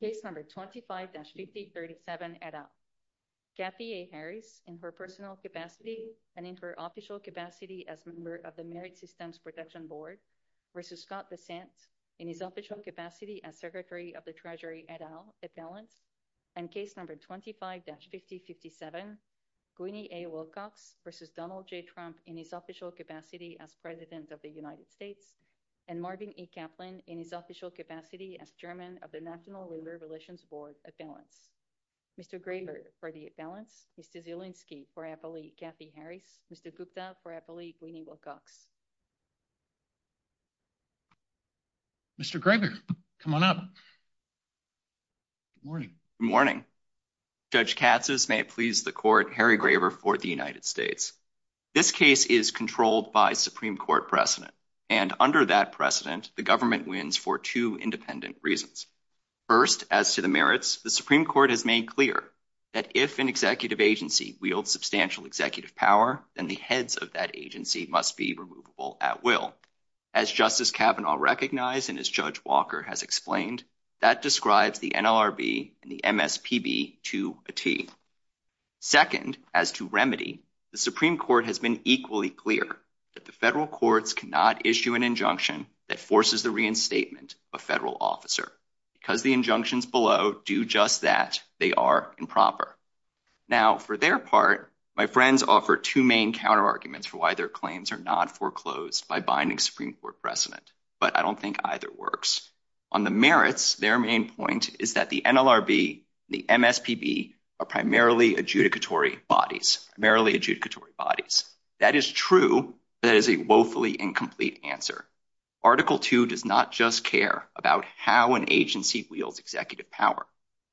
case number 25-5037 et al. Kathy A. Harris in her personal capacity and in her official capacity as a member of the Merit Systems Protection Board v. Scott DeSantis in his official capacity as Secretary of the Treasury et al. et al. and case number 25-5067 Gwynne A. Wilcox v. Donald J. Trump in his official capacity as President of the United States and Marvin A. Kaplan in his official capacity as Chairman of the National Labor Relations Board et al. Mr. Graeber for the et al. Mr. Zielinski for Appellee Kathy Harris. Mr. Gupta for Appellee Gwynne Wilcox. Mr. Graeber, come on up. Good morning. Good morning. Judge Casas, may it please the Court, Harry Graeber for the United States. This case is controlled by Supreme Court precedent, and under that precedent, the government wins for two independent reasons. First, as to the merits, the Supreme Court has made clear that if an executive agency wields substantial executive power, then the heads of that agency must be removable at will. As Justice Kavanaugh recognized, and as Judge Walker has explained, that describes the NLRB and the MSPB to a T. Second, as to remedy, the Supreme Court has been equally clear that the federal courts cannot issue an injunction that forces the reinstatement of a federal officer. Because the injunctions below do just that, they are improper. Now, for their part, my friends offer two main counterarguments for why their claims are not foreclosed by binding Supreme Court precedent, but I don't think either works. On the merits, their main point is that the NLRB and the MSPB are primarily adjudicatory bodies, primarily adjudicatory bodies. That is true, but it is a woefully incomplete answer. Article two does not just care about how an agency wields executive power.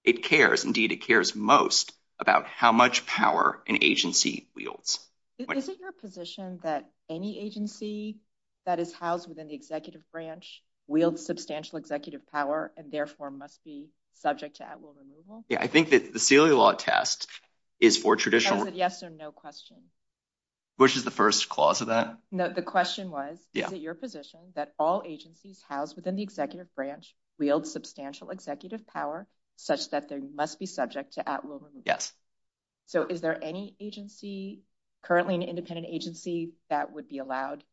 It cares, indeed, it cares most about how much power an agency wields. Isn't your position that any agency that is housed within the executive branch wields substantial executive power and therefore must be subject to at will removal? Yeah, I think that the Sealy law test is for traditional... Yes or no question. Which is the first clause of that? No, the question was, is it your position that all agencies housed within the executive branch wield substantial executive power such that they must be subject to at will removal? Yes. So is there any agency, currently an independent agency, that would be allowed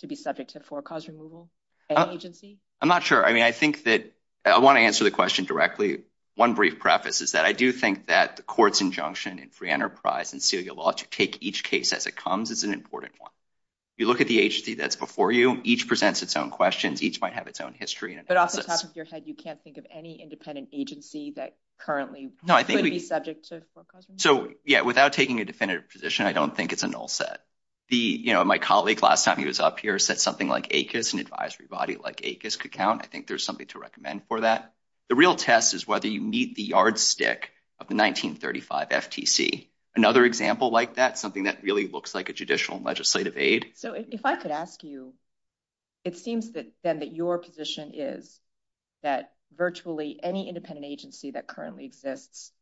to be subject to foreclosure removal? Any agency? I'm not sure. I mean, I think that I want to answer the question directly. One brief preface is that I do think that the court's injunction in free enterprise and Sealy law to take each case as it comes is an important one. You look at the agency that's before you, each presents its own questions, each might have its own history. But off the top of your head, you can't think of any independent agency that currently could be subject to foreclosure? So yeah, without taking a definitive position, I don't think it's a null set. My colleague, last time he was up here, said something like ACUS, an advisory body like ACUS could count. I think there's something to recommend for that. The real test is whether you meet the yardstick of the 1935 FTC. Another example like that, something that really looks like a judicial legislative aid. So if I could ask you, it seems then that your position is that virtually any independent agency that currently exists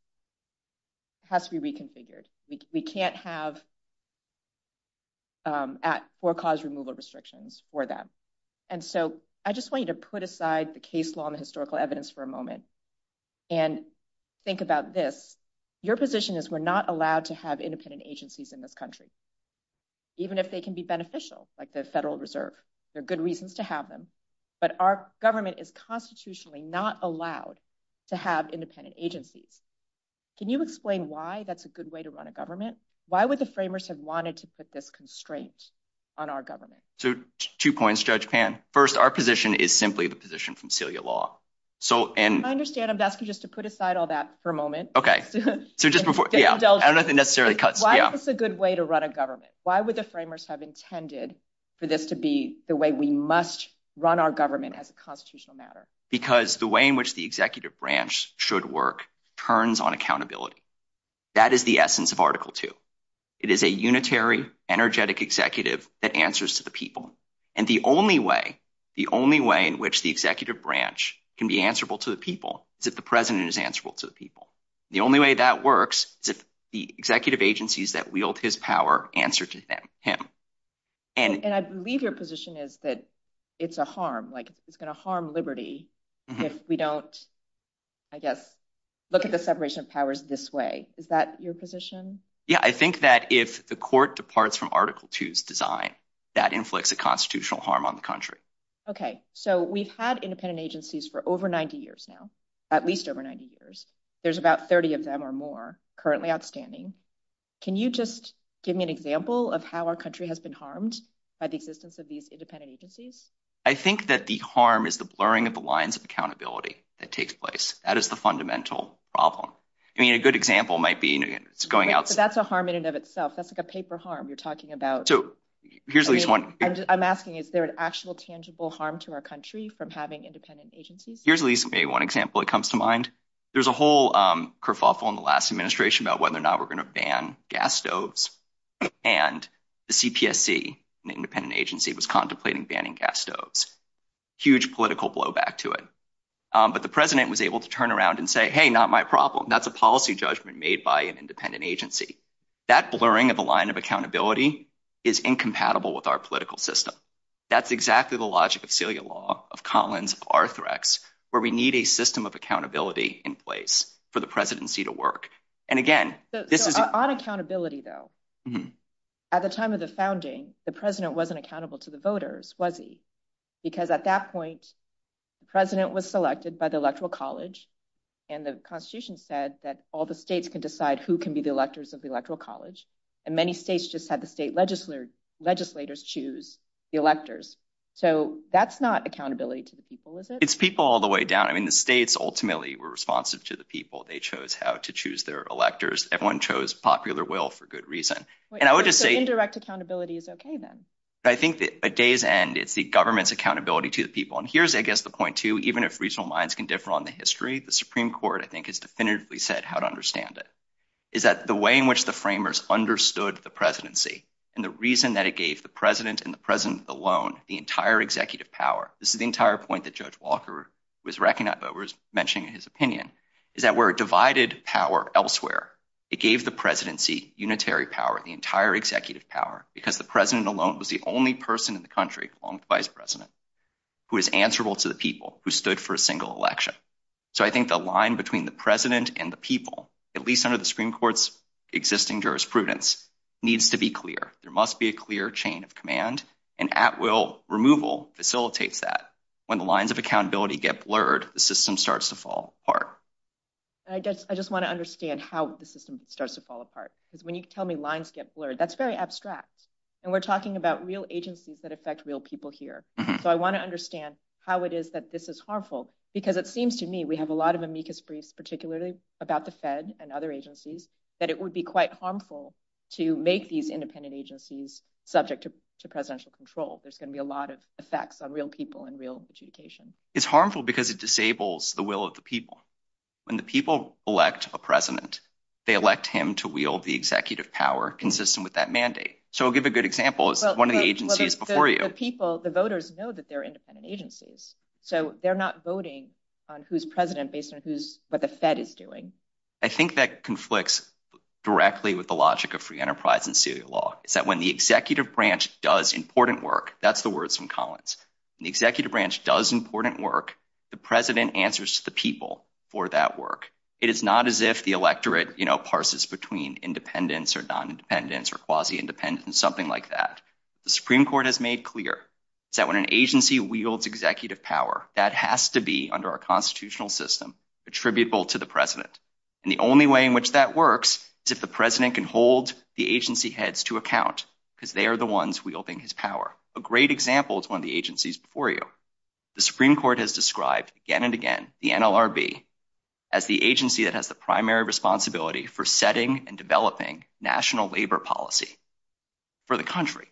has to be reconfigured. We can't have forecaused removal restrictions for that. And so I just want you to put aside the case law and the historical evidence for a moment and think about this. Your position is we're not allowed to have independent agencies in this country, even if they can be beneficial, like the Federal Reserve. They're good reasons to have them. But our government is constitutionally not allowed to have independent agencies. Can you explain why that's a good way to run a government? Why would the framers have wanted to put this constraint on our government? So two points, Judge Pan. First, our position is simply the position from Celia Law. I understand. I'm asking you just to put aside all that for a moment. Okay. I don't know if it necessarily cuts. Why is this a good way to run a government? Why would the framers have intended for this to be the way we must run our government as a constitutional matter? Because the way in which the executive branch should work turns on accountability. That is the essence of Article II. It is a unitary, energetic executive that answers to the people. And the only way, the only way in which the executive branch can be answerable to the people is if the president is answerable to the people. The only way that works is if the executive agencies that wield his power answer to him. And I believe your position is that it's a harm, like it's going to harm liberty if we don't, I guess, look at the separation of powers this way. Is that your position? Yeah. I think that if the court departs from Article II's design, that inflicts a constitutional harm on the country. Okay. So we've had independent agencies for over 90 years now, at least over 90 years. There's about 30 of them or more currently outstanding. Can you just give me an example of how our country has been harmed by the existence of these independent agencies? I think that the harm is the blurring of the lines of accountability that takes place. That is the fundamental problem. I mean, a good example might be, you know, it's going out- But that's a harm in and of itself. That's like a paper harm you're talking about. So here's at least one- I'm asking, is there an actual tangible harm to our country from having independent agencies? Here's at least maybe one example that comes to mind. There's a whole kerfuffle in the last administration about whether or not we're going to ban gas stoves. And the CPSC, an independent agency, was contemplating banning gas stoves. Huge political blowback to it. But the president was able to turn around and say, hey, not my problem. That's a policy judgment made by an independent agency. That blurring of the line of accountability is incompatible with our political system. That's exactly the logic of Celia Law, of Collins, of Arthrex, where we need a system of accountability in place for the presidency to work. And again, this is- to the voters, was he? Because at that point, the president was selected by the Electoral College and the Constitution said that all the states can decide who can be the electors of the Electoral College. And many states just had the state legislators choose the electors. So that's not accountability to the people, is it? It's people all the way down. I mean, the states ultimately were responsive to the people. They chose how to choose their electors. Everyone chose popular will for good reason. And I would just say- at day's end, it's the government's accountability to the people. And here's, I guess, the point too, even if regional minds can differ on the history, the Supreme Court, I think, has definitively said how to understand it, is that the way in which the framers understood the presidency and the reason that it gave the president and the president alone the entire executive power, this is the entire point that Judge Walker was racking up, but was mentioning in his opinion, is that we're a divided power elsewhere. It gave the presidency unitary power, the entire executive power, because the president alone was the only person in the country, along with the vice president, who was answerable to the people who stood for a single election. So I think the line between the president and the people, at least under the Supreme Court's existing jurisprudence, needs to be clear. There must be a clear chain of command, and at-will removal facilitates that. When the lines of accountability get blurred, the system starts to fall apart. And I just want to understand how the system starts to fall apart. Because you tell me lines get blurred. That's very abstract. And we're talking about real agencies that affect real people here. So I want to understand how it is that this is harmful, because it seems to me we have a lot of amicus briefs, particularly about the Fed and other agencies, that it would be quite harmful to make these independent agencies subject to presidential control. There's going to be a lot of effects on real people and real adjudication. It's harmful because it disables the will of the people. When the people elect a president, they elect him to wield the executive power consistent with that mandate. So I'll give a good example. It's one of the agencies before you. But the people, the voters know that they're independent agencies. So they're not voting on who's president based on what the Fed is doing. I think that conflicts directly with the logic of free enterprise and serial law, is that when the executive branch does important work, that's the words from Collins, when the executive branch does important work, the president answers to the people for that work. It is not as if the electorate parses between independents or non-independents or quasi independents, something like that. The Supreme Court has made clear that when an agency wields executive power, that has to be, under our constitutional system, attributable to the president. And the only way in which that works is if the president can hold the agency heads to account, because they are the ones wielding his power. A great example is one of the agencies before you. The Supreme Court has described again and again, the NLRB, as the agency that has the primary responsibility for setting and developing national labor policy for the country.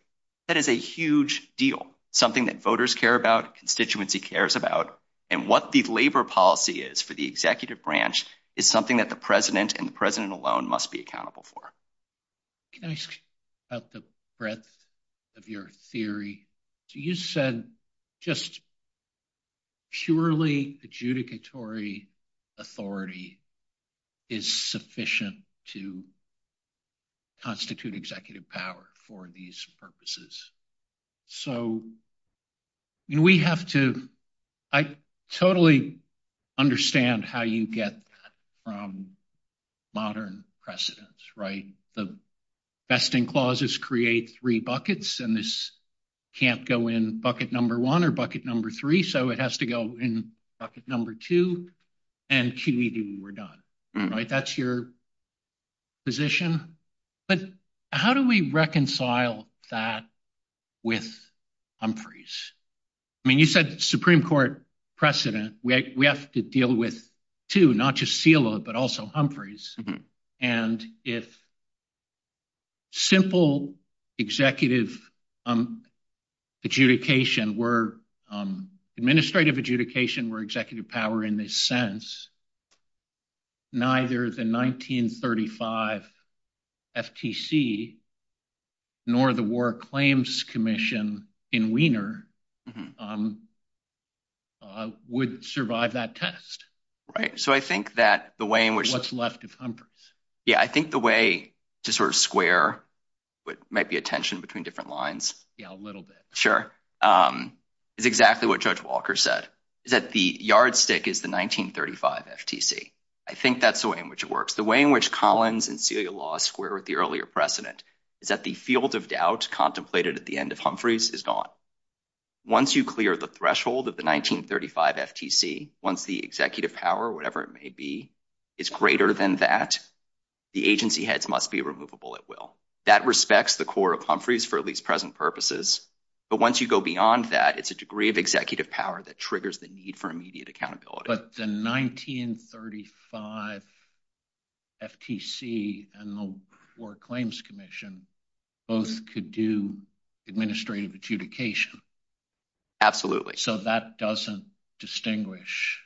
That is a huge deal, something that voters care about, constituency cares about, and what the labor policy is for the executive branch is something that the president and the president must be accountable for. Can I ask about the breadth of your theory? You said just purely adjudicatory authority is sufficient to constitute executive power for these purposes. So, we have to, I totally understand how you get from modern precedents, right? The vesting clauses create three buckets, and this can't go in bucket number one or bucket number three, so it has to go in bucket number two, and QED when we're done, right? That's your position, but how do we reconcile that with Humphreys? I mean, you said Supreme Court precedent, we have to deal with two, not just SILA, but also Humphreys, and if simple executive adjudication were, administrative adjudication were executive power in this sense, neither the 1935 FTC nor the War Claims Commission in Wiener would survive that test. Right. So, I think that the way in which... What's left of Humphreys. Yeah, I think the way to sort of square what might be a tension between different lines... Yeah, a little bit. Sure. It's exactly what Judge Walker said, that the yardstick is the 1935 FTC. I think that's the way in which it works. The way in which Collins and SILA law square with the earlier precedent is that the field of doubt contemplated at the end of Humphreys is gone. Once you clear the threshold of the 1935 FTC, once the executive power, whatever it may be, is greater than that, the agency heads must be removable at will. That respects the core of Humphreys for at purposes. But once you go beyond that, it's a degree of executive power that triggers the need for immediate accountability. But the 1935 FTC and the War Claims Commission both could do administrative adjudication. Absolutely. So, that doesn't distinguish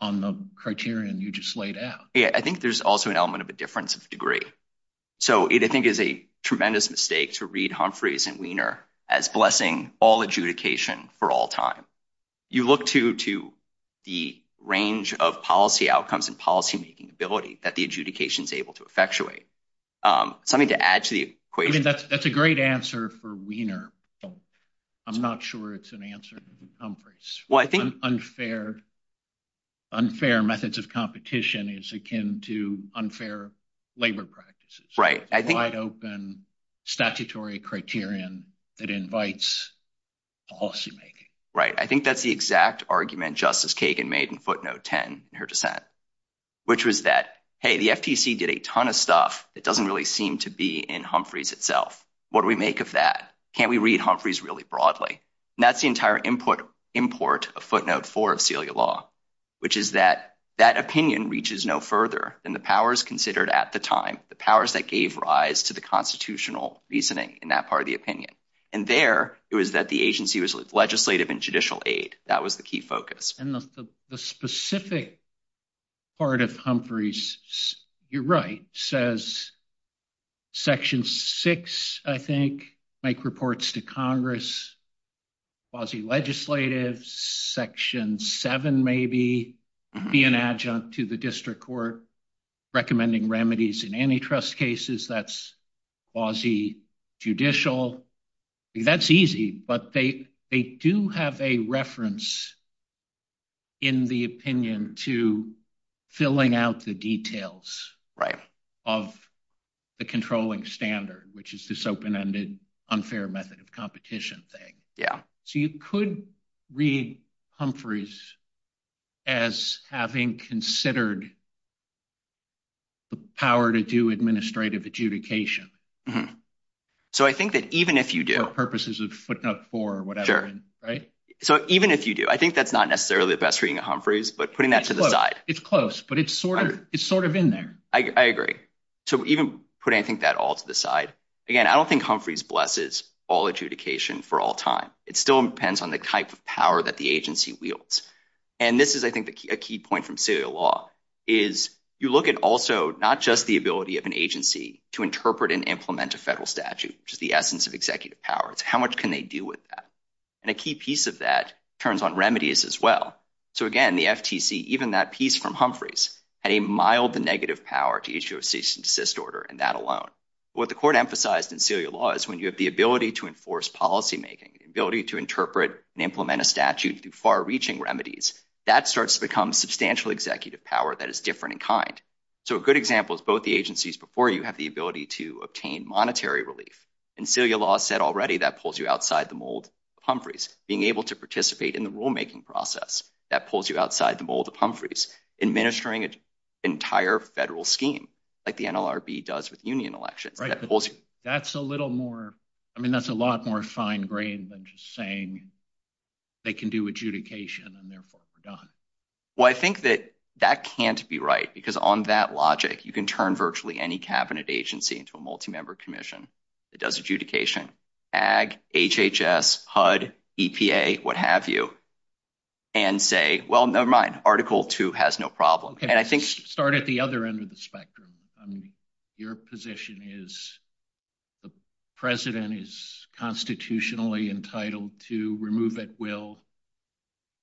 on the criterion you just laid out. Yeah. I think there's also an element of a difference of degree. So, it, I think, is a tremendous mistake to read Humphreys and Wiener as blessing all adjudication for all time. You look to the range of policy outcomes and policymaking ability that the adjudication is able to effectuate. Something to add to the equation. That's a great answer for Wiener. I'm not sure it's an answer for Humphreys. Unfair methods of competition is akin to unfair labor practices. Right. I think- Wide open statutory criterion that invites policymaking. Right. I think that's the exact argument Justice Kagan made in footnote 10 in her dissent, which was that, hey, the FTC did a ton of stuff. It doesn't really seem to be in Humphreys itself. What do we make of that? Can't we read Humphreys really broadly? And that's the entire import of footnote four of Celia Law, which is that, that opinion reaches no further than the powers considered at the time. The powers that gave rise to the constitutional reasoning in that part of the opinion. And there, it was that the agency was legislative and judicial aid. That was the key focus. And the specific part of Humphreys, you're right, says section six, I think, make reports to Congress, quasi-legislative, section seven maybe, be an adjunct to the court, recommending remedies in antitrust cases. That's quasi-judicial. That's easy, but they do have a reference in the opinion to filling out the details of the controlling standard, which is this open-ended, unfair method of competition thing. So you could read Humphreys as having considered the power to do administrative adjudication. So I think that even if you do- For purposes of footnote four or whatever, right? So even if you do, I think that's not necessarily the best reading of Humphreys, but putting that to the side. It's close, but it's sort of in there. I agree. So even putting that all to the side, again, I don't think Humphreys blesses all adjudication for all time. It still depends on the type of power that the agency wields. And this is, I think, a key point from Celia Law, is you look at also not just the ability of an agency to interpret and implement a federal statute, which is the essence of executive powers, how much can they do with that? And a key piece of that turns on remedies as well. So again, the FTC, even that piece from Humphreys, had a mild negative power to issue a cease and desist order in that alone. What the court emphasized in Celia Law is when you have the ability to enforce policy making, the ability to interpret and implement a statute through far-reaching remedies, that starts to become substantial executive power that is different in kind. So a good example is both the agencies before you have the ability to obtain monetary relief. And Celia Law said already that pulls you outside the mold of Humphreys. Being able to participate in the rulemaking process, that pulls you outside the mold of Humphreys, administering an entire federal scheme, like the NLRB does with union elections. That's a little more, I mean, that's a lot more fine-grained than just saying they can do adjudication and therefore we're done. Well, I think that that can't be right, because on that logic, you can turn virtually any cabinet agency into a multi-member commission that does adjudication, AG, HHS, HUD, EPA, what have you, and say, well, nevermind, Article 2 has no problem. And I think- Start at the other end of the spectrum. Your position is the president is constitutionally entitled to remove at will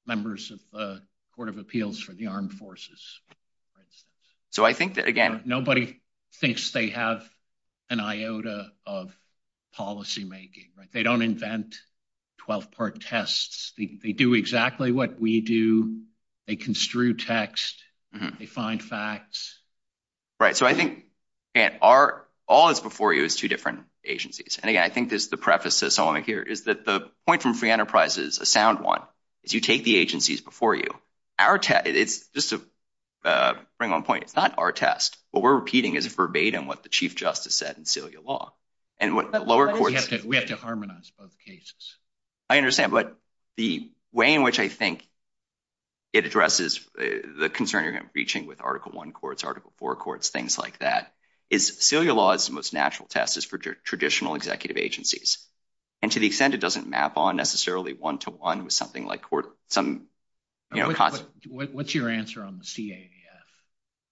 members of the Court of Appeals for the Armed Forces. So I think that, again- Nobody thinks they have an iota of policy making, right? They don't invent 12-part tests. They do exactly what we do. They construe text. They find facts. Right. So I think, again, all that's before you is two different agencies. And again, I think there's the preface, as someone might hear, is that the point from free enterprise is a sound one, is you take the agencies before you. Our test, just to bring one point, it's not our test. What we're repeating is verbatim what the Chief Justice said in Celia Law. And what the lower- We have to harmonize both cases. I understand. But the way in which I think it addresses the concern you're reaching with Article 1 courts, Article 4 courts, things like that, is Celia Law's most natural test is for traditional executive agencies. And to the extent it doesn't map on necessarily one-to-one with something like some- What's your answer on the CAEF?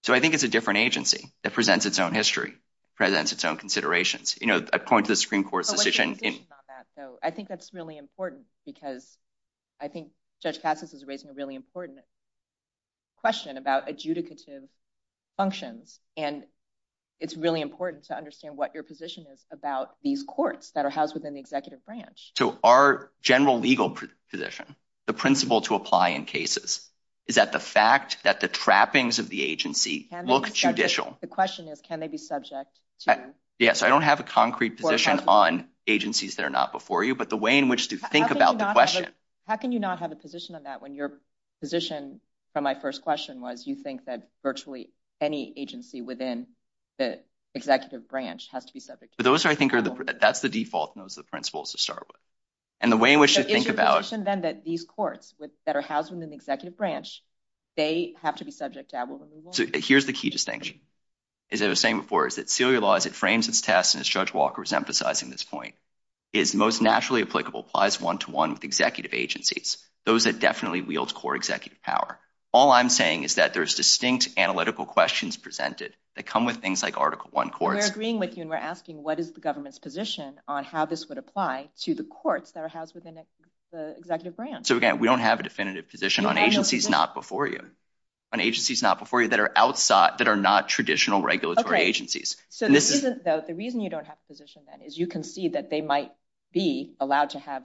So I think it's a different agency that presents its own history, presents its own court's decision- So what's your position on that, though? I think that's really important, because I think Judge Katsas is raising a really important question about adjudicative function. And it's really important to understand what your position is about these courts that are housed within the executive branch. So our general legal position, the principle to apply in cases, is that the fact that the trappings of the agency look judicial- The question is, can they be subject to- Yes, I don't have a concrete position on agencies that are not before you, but the way in which to think about the question- How can you not have a position on that when your position from my first question was, you think that virtually any agency within the executive branch has to be subject to- But those are, I think, that's the default, and those are the principles to start with. And the way in which to think about- But isn't the assumption, then, that these courts that are housed within the executive branch, they have to be subject to- So here's the key distinction. As I was saying before, is that Celia Law, as it frames its test, and as Judge Walker was emphasizing this point, is most naturally applicable applies one-to-one with executive agencies, those that definitely wield core executive power. All I'm saying is that there's distinct analytical questions presented that come with things like Article I courts- We're agreeing with you, and we're asking, what is the government's position on how this would apply to the courts that are housed within the executive branch? So again, we don't have a definitive position on agencies not before you, on agencies not before you that are outside, that are not traditional regulatory agencies. So the reason you don't have a position, then, is you concede that they might be allowed to have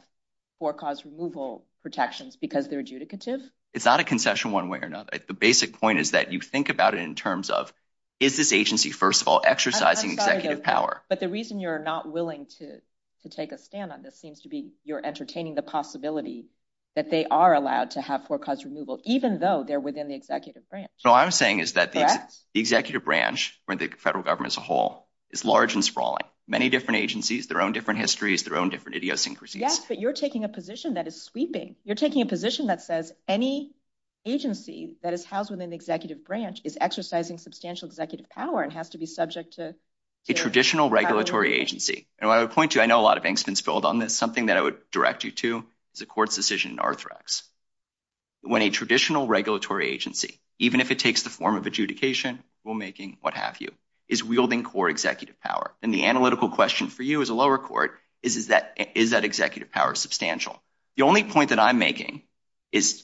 forecast removal protections because they're adjudicative? It's not a concession one way or another. The basic point is that you think about it in terms of, is this agency, first of all, exercising executive power? But the reason you're not willing to take a stand on this seems to be you're entertaining the possibility that they are allowed to have forecast removal, even though they're within the executive branch. So what I'm saying is that the executive branch, or the federal government as a whole, is large and sprawling. Many different agencies, their own different histories, their own different idiosyncrasies. Yes, but you're taking a position that is sweeping. You're taking a position that says any agency that is housed within the executive branch is exercising substantial executive power and has to be subject to- A traditional regulatory agency. And what I would point to, I know a lot of angst has built on this, something that I would direct you to is a court's decision in Arthrex. When a traditional regulatory agency, even if it takes the form of adjudication, rulemaking, what have you, is wielding core executive power. And the analytical question for you as a lower court is, is that executive power substantial? The only point that I'm making is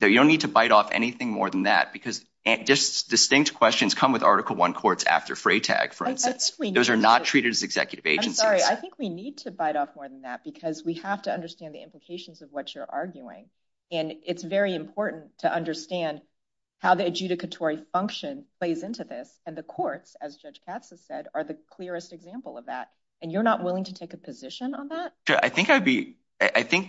that you don't need to bite off anything more than that because just distinct questions come with Article I courts after Freytag, for instance. Those are not treated as executive agencies. I'm sorry. I think we need to bite off more than that because we have to understand the implications of what you're arguing. And it's very important to understand how the adjudicatory function plays into this. And the courts, as Judge Katz has said, are the clearest example of that. And you're not willing to take a position on that? Sure. I think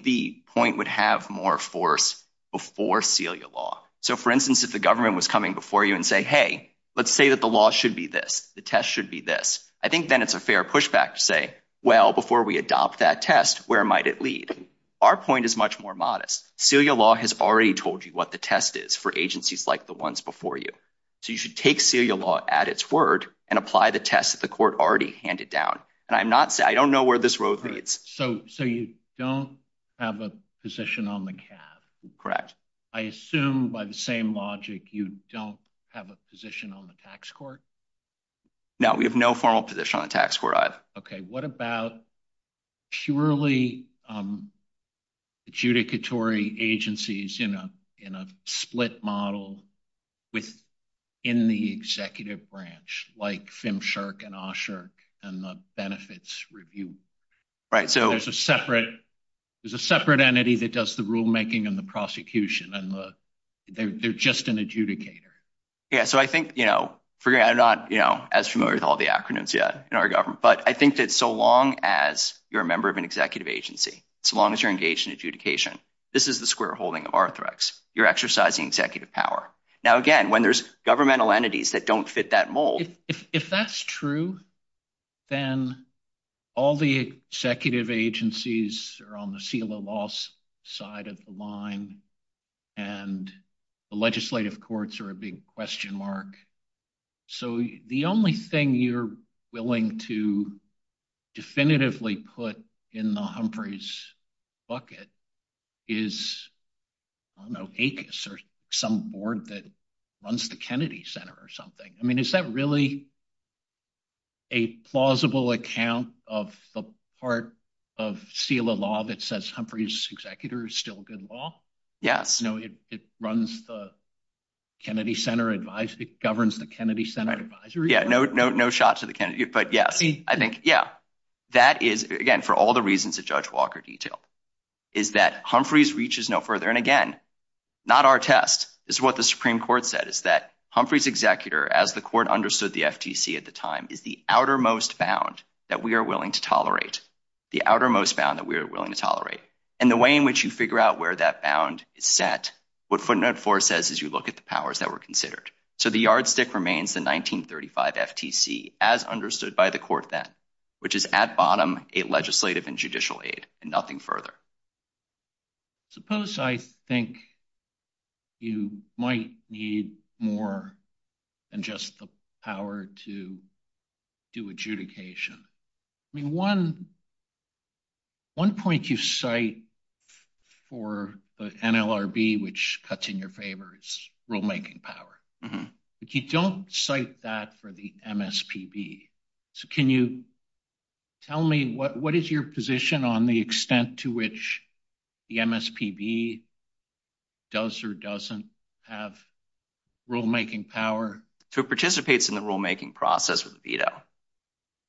the point would have more force before CELIA law. So for instance, if the government was coming before you and say, hey, let's say that the law should be this. The test should be this. I think then it's a fair pushback to say, well, before we adopt that test, where might it lead? Our point is much more modest. CELIA law has already told you what the test is for agencies like the ones before you. So you should take CELIA law at its word and apply the test that the court already handed down. And I'm not saying, I don't know where this road leads. So you don't have a position on the CAF? Correct. I assume by the same logic, you don't have a position on the tax court? No, we have no formal position on the tax court either. Okay. What about purely adjudicatory agencies in a split model within the executive branch, like FMSHRC and OSHRC and the benefits review? Right. So there's a separate entity that does the rulemaking and the prosecution and they're just an adjudicator. Yeah. So I think, I'm not as familiar with all the acronyms yet in our government, but I think that so long as you're a member of an executive agency, so long as you're engaged in adjudication, this is the square holding of Arthrex. You're exercising executive power. Now, again, when there's governmental entities that don't fit that mold. If that's true, then all the executive agencies are on the CELIA law's side of the line and the legislative courts are a big question mark. So the only thing you're willing to definitively put in the Humphrey's bucket is, I don't know, ACUS or some board that runs the Kennedy Center or something. I mean, is that really a plausible account of the part of CELIA law that says Humphrey's executor is still good law? Yes. It runs the Kennedy Center, it governs the Kennedy Center advisory. Yeah. No, no, no shots to the Kennedy. But yeah, I think, yeah, that is, again, for all the reasons that Judge Walker detailed, is that Humphrey's reaches no further. And again, not our test. This is what the Supreme Court said is that Humphrey's executor, as the court understood the FTC at the time, is the outermost bound that we are willing to tolerate. The outermost bound that we are willing to tolerate. And the way in which you figure out where that bound is set, what footnote four says is you look at the powers that were considered. So the yardstick remains the 1935 FTC, as understood by the court then, which is at bottom a legislative and judicial aid and nothing further. Suppose I think you might need more than just the power to do adjudication. I mean, one point you cite for the NLRB, which cuts in your favor, is rulemaking power. If you don't cite that for the MSPB, can you tell me what is your position on the extent to which the MSPB does or doesn't have rulemaking power? So it participates in the rulemaking process with veto.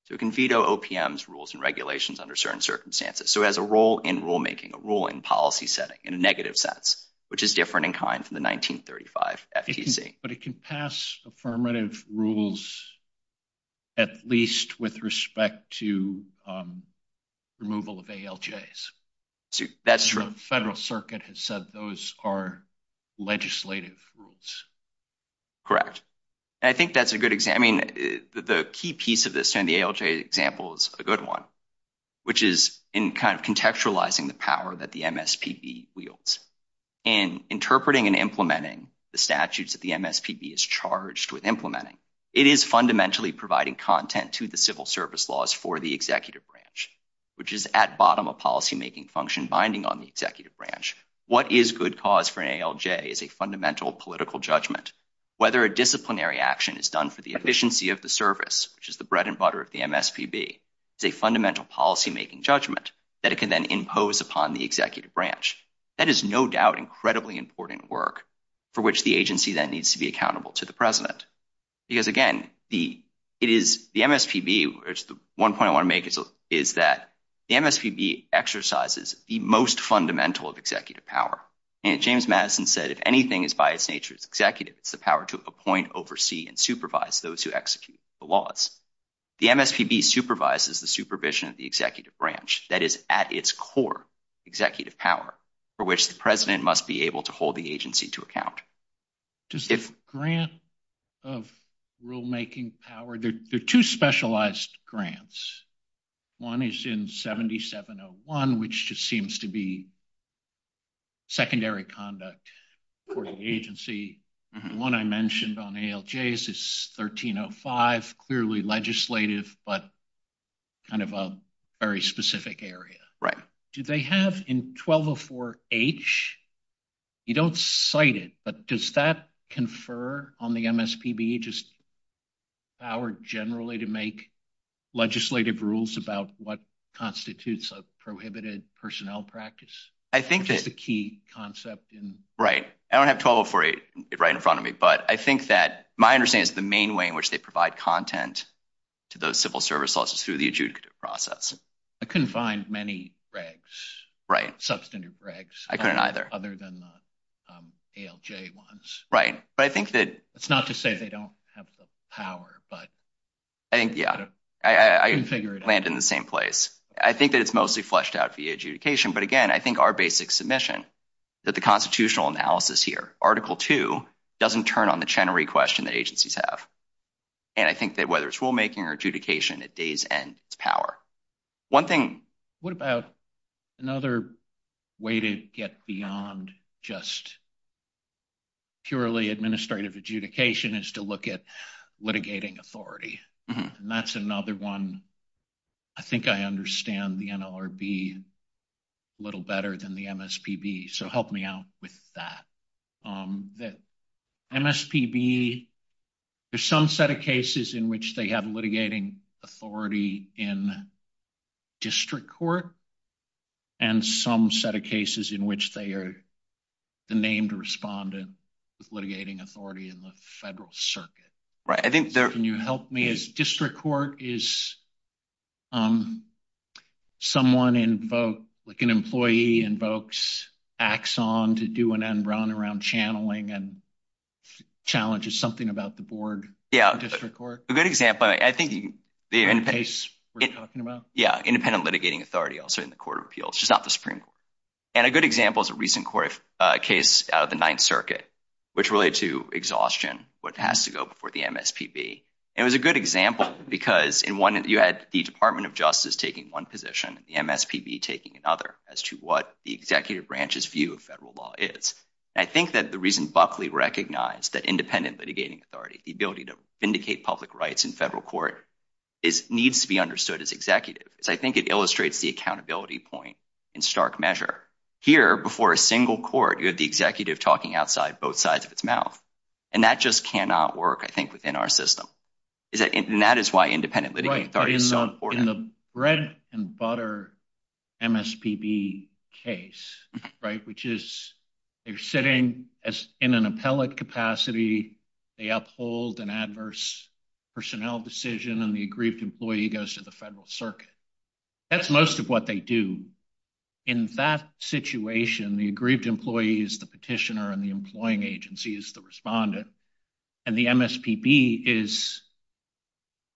So it can veto OPM's rules and regulations under certain circumstances. So it has a role in rulemaking, a role in policy setting in a negative sense, which is different in kind from the 1935 FTC. But it can pass affirmative rules at least with respect to removal of ALJs. That's true. Federal Circuit has said those are legislative rules. Correct. And I think that's a good example. The key piece of this, and the ALJ example is a good one, which is in kind of contextualizing the power that the MSPB wields. In interpreting and implementing the statutes that the MSPB is charged with implementing, it is fundamentally providing content to the civil service laws for the executive branch, which is at bottom a policymaking function binding on the executive branch. What is good cause for an ALJ is a fundamental political judgment. Whether a disciplinary action is done for the efficiency of the service, which is the bread and butter of the MSPB, it's a fundamental policymaking judgment that it can then impose upon the executive branch. That is no doubt incredibly important work for which the agency then needs to be accountable to the president. Because again, the MSPB, one point I want to make is that the MSPB exercises the most fundamental of executive power. James Madison said, if anything is by its nature as executive, it's the power to appoint, oversee, and supervise those who execute the laws. The MSPB supervises the supervision of the executive branch that is at its core executive power for which the president must be able to hold the agency to account. Just if grant of rulemaking power, there are two specialized grants. One is in 7701, which just seems to be secondary conduct for the agency. One I mentioned on ALJs is 1305, clearly legislative, but kind of a very specific area. Do they have in 1204H, you don't cite it, but does that confer on the MSPB just power generally to make legislative rules about what constitutes a prohibited personnel practice? I think that's a key concept. Right. I don't have 1204H right in front of me, but I think that my understanding is the main way in which they provide content to those civil service laws is through the adjudicative process. I couldn't find many regs. Right. Substantive regs. I couldn't either. Other than the ALJ ones. Right. But I think that... It's not to say they don't have the power, but... I think, yeah. I can figure it out. Land in the same place. I think that it's mostly fleshed out via adjudication, but again, I think our basic submission that the constitutional analysis here, Article II, doesn't turn on the Chenery question that agencies have. And I think that whether it's rulemaking or adjudication, at days end, it's power. One thing... What about another way to get beyond just purely administrative adjudication is to look at litigating authority. And that's another one. I think I understand the NLRB a little better than the MSPB. So help me out with that. That MSPB, there's some set of cases in which they have litigating authority in district court and some set of cases in which they are the named respondent with litigating authority in the federal circuit. Right. I think there... Can you help me? District court is someone in both... Like an employee invokes Axon to do an end run around channeling and challenges something about the board. Yeah, a good example. I think the case we're talking about. Yeah. Independent litigating authority also in the court of appeals, just not the Supreme Court. And a good example is a recent court case out of the Ninth Circuit, which relates to exhaustion, what has to go before the MSPB. It was a good example because in one, you had the Department of Justice taking one position, the MSPB taking another as to what the executive branch's view of federal law is. I think that the reason Buckley recognized that independent litigating authority, the ability to vindicate public rights in federal court needs to be understood as executive. I think it illustrates the accountability point in stark measure. Here before a single court, you have the executive talking outside both sides of its mouth. And that just cannot work, I think, within our system. And that is why independent litigating authority is so important. In the bread and butter MSPB case, right? Which is, they're sitting in an appellate capacity, they uphold an adverse personnel decision and the aggrieved employee goes to the federal circuit. That's most of what they do. In that situation, the aggrieved employee is the petitioner and the employing agency is the respondent. And the MSPB is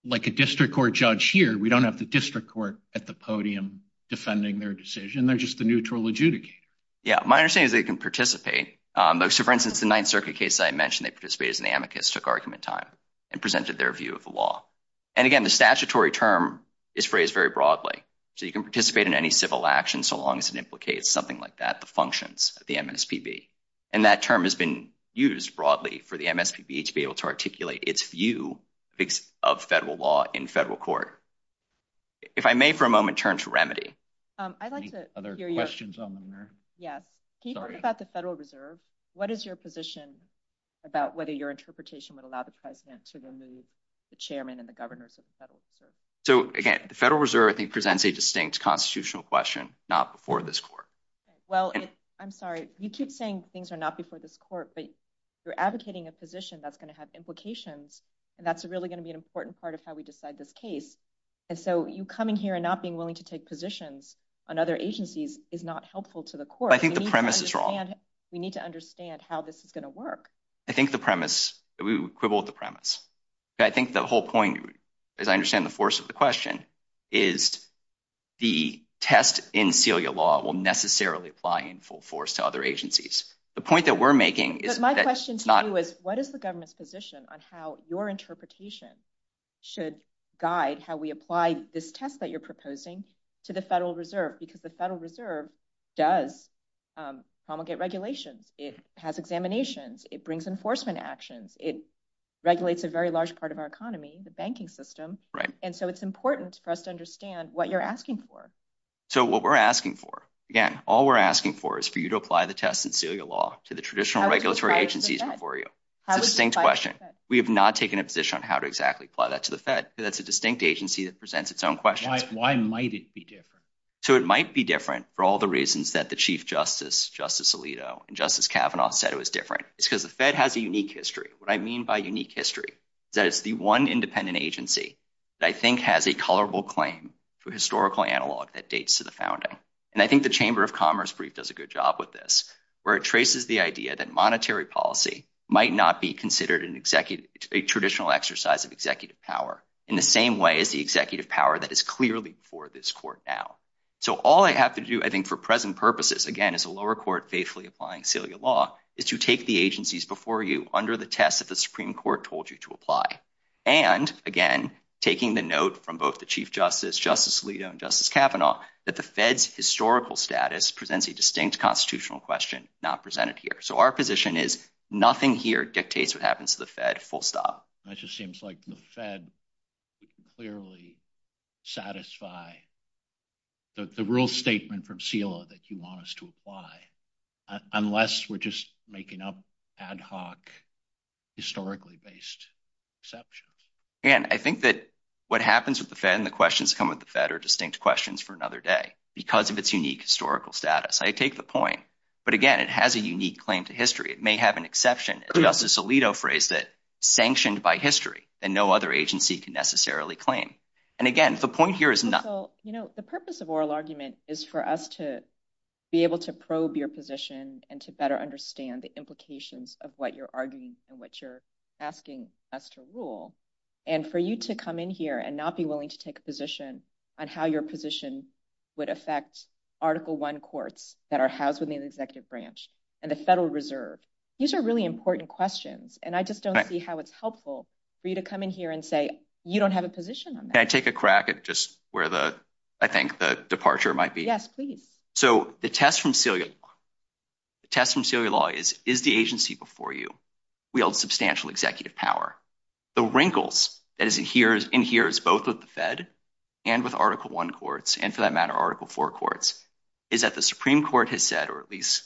like a district court judge here. We don't have the district court at the podium defending their decision. They're just the neutral adjudicator. Yeah. My understanding is they can participate. So for instance, the Ninth Circuit case I mentioned, they participated as an amicus, took argument time and presented their view of the law. And again, the statutory term is phrased very broadly. So you can participate in any civil action so long as it implicates something like that, the functions of the MSPB. And that term has been used broadly for the MSPB to be able to articulate its view of federal law in federal court. If I may, for a moment, turn to Remedy. I'd like to hear your- Any other questions on the matter? Yeah. Can you talk about the Federal Reserve? What is your position about whether your interpretation would allow the president to remove the chairman and the governor to the Federal Reserve? So again, the Federal Reserve, I think, presents a distinct constitutional question, not before this court. Well, I'm sorry. You keep saying things are not before this court, but you're advocating a position that's going to have implications. And that's really going to be an important part of how we decide this case. And so you coming here and not being willing to take positions on other agencies is not helpful to the court. I think the premise is wrong. We need to understand how this is going to work. I think the premise, we quibble with the premise. I think the whole point, as I understand the force of the question, is the test in Celia law will necessarily apply in full force to other agencies. The point that we're making is- My question to you is, what is the government's position on how your interpretation should guide how we apply this test that you're proposing to the Federal Reserve? Because the Federal Reserve does promulgate regulations. It has examinations. It brings enforcement actions. It regulates a very large part of our economy, the banking system. Right. So it's important for us to understand what you're asking for. So what we're asking for, again, all we're asking for is for you to apply the test in Celia law to the traditional regulatory agencies before you. How does it apply to the Fed? A distinct question. We have not taken a position on how to exactly apply that to the Fed. It's a distinct agency that presents its own questions. Why might it be different? So it might be different for all the reasons that the Chief Justice, Justice Alito, and Justice Kavanaugh said it was different. It's because the Fed has a unique history. What I mean by unique history, that it's the one independent agency that I think has a colorable claim to historical analog that dates to the founding. And I think the Chamber of Commerce brief does a good job with this, where it traces the idea that monetary policy might not be considered an executive, a traditional exercise of executive power in the same way as the executive power that is clearly for this court now. So all I have to do, I think, for present purposes, again, as a lower court faithfully applying Celia law, is you take the agencies before you under the test that the Supreme Court told you to apply. And again, taking the note from both the Chief Justice, Justice Alito, and Justice Kavanaugh, that the Fed's historical status presents a distinct constitutional question not presented here. So our position is nothing here dictates what happens to the Fed full stop. That just seems like the Fed clearly satisfy the rule statement from CELA that you want us to apply, unless we're just making up ad hoc, historically based exceptions. And I think that what happens with the Fed and the questions that come with the Fed are distinct questions for another day, because of its unique historical status. I take the point, but again, it has a unique claim to history. It may have an exception. And Justice Alito phrased it sanctioned by history, and no other agency can necessarily claim. And again, the point here is not... is for us to be able to probe your position and to better understand the implications of what you're arguing and what you're asking us to rule. And for you to come in here and not be willing to take a position on how your position would affect Article I courts that are housed in the executive branch and the Federal Reserve. These are really important questions. And I just don't see how it's helpful for you to come in here and say, you don't have a position on that. Can I take a crack at just where I think the departure might be? Yes, please. So the test from Celia law is, is the agency before you wield substantial executive power? The wrinkles in here is both with the Fed and with Article I courts, and for that matter, Article IV courts, is that the Supreme Court has said, or at least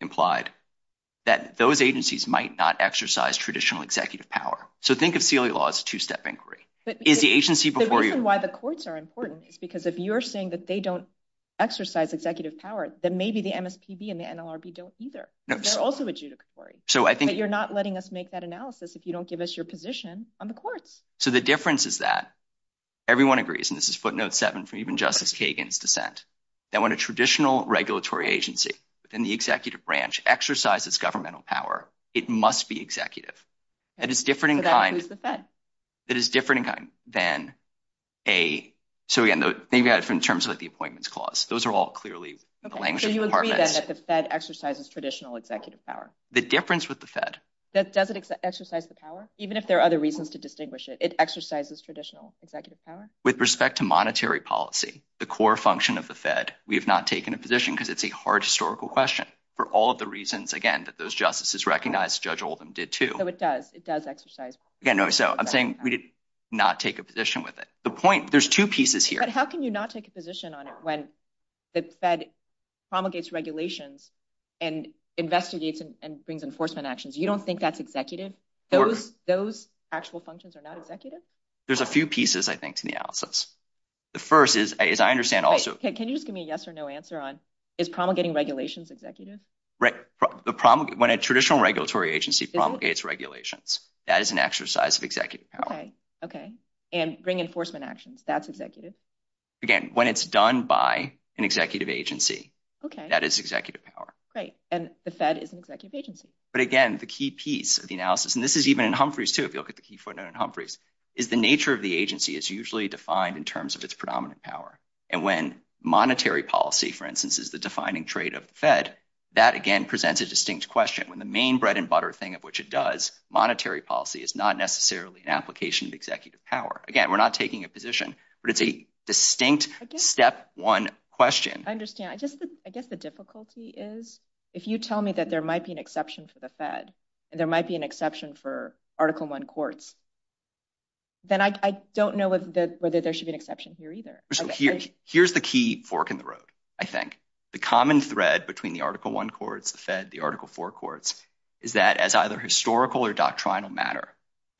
implied, that those agencies might not exercise traditional executive power. So think of Celia law as a two-step inquiry. Is the agency before you? The reason why the courts are important is because if you're saying that they don't exercise executive power, then maybe the MSPB and the NLRB don't either. They're also a two-step inquiry. So I think you're not letting us make that analysis if you don't give us your position on the court. So the difference is that everyone agrees, and this is footnote seven from even Justice Kagan's dissent, that when a traditional regulatory agency within the executive branch exercises governmental power, it must be executive. It is different in kind than a... So, again, maybe in terms of the Appointments Clause, those are all clearly the language of the department. So you agree that the Fed exercises traditional executive power? The difference with the Fed... Does it exercise the power? Even if there are other reasons to distinguish it, it exercises traditional executive power? With respect to monetary policy, the core function of the Fed, we have not taken a position because it's a hard historical question. For all of the reasons, again, that those justices recognized, Judge Oldham did too. It does exercise. Again, so I'm saying we did not take a position with it. The point, there's two pieces here. But how can you not take a position on it when the Fed promulgates regulations and investigates and brings enforcement actions? You don't think that's executive? Those actual functions are not executive? There's a few pieces, I think, to the analysis. The first is, as I understand also... Can you just give me a yes or no answer on, is promulgating regulations executive? The problem... When a traditional regulatory agency promulgates regulations, that is an exercise of executive power. Okay. And bring enforcement actions, that's executive? Again, when it's done by an executive agency, that is executive power. Great. And the Fed is an executive agency. But again, the key piece of the analysis, and this is even in Humphreys too, if you look at the key footnote in Humphreys, is the nature of the agency is usually defined in terms of its predominant power. And when monetary policy, for instance, is the defining trait of the Fed, that again presents a distinct question. When the main bread and butter thing of which it does, monetary policy is not necessarily an application of executive power. Again, we're not taking a position, but it's a distinct step one question. I understand. I guess the difficulty is, if you tell me that there might be an exception for the Fed, and there might be an exception for Article I courts, then I don't know whether there should be an exception here either. Here's the key fork in the road, I think. The common thread between the Article I courts, the Fed, the Article IV courts, is that as either historical or doctrinal matter,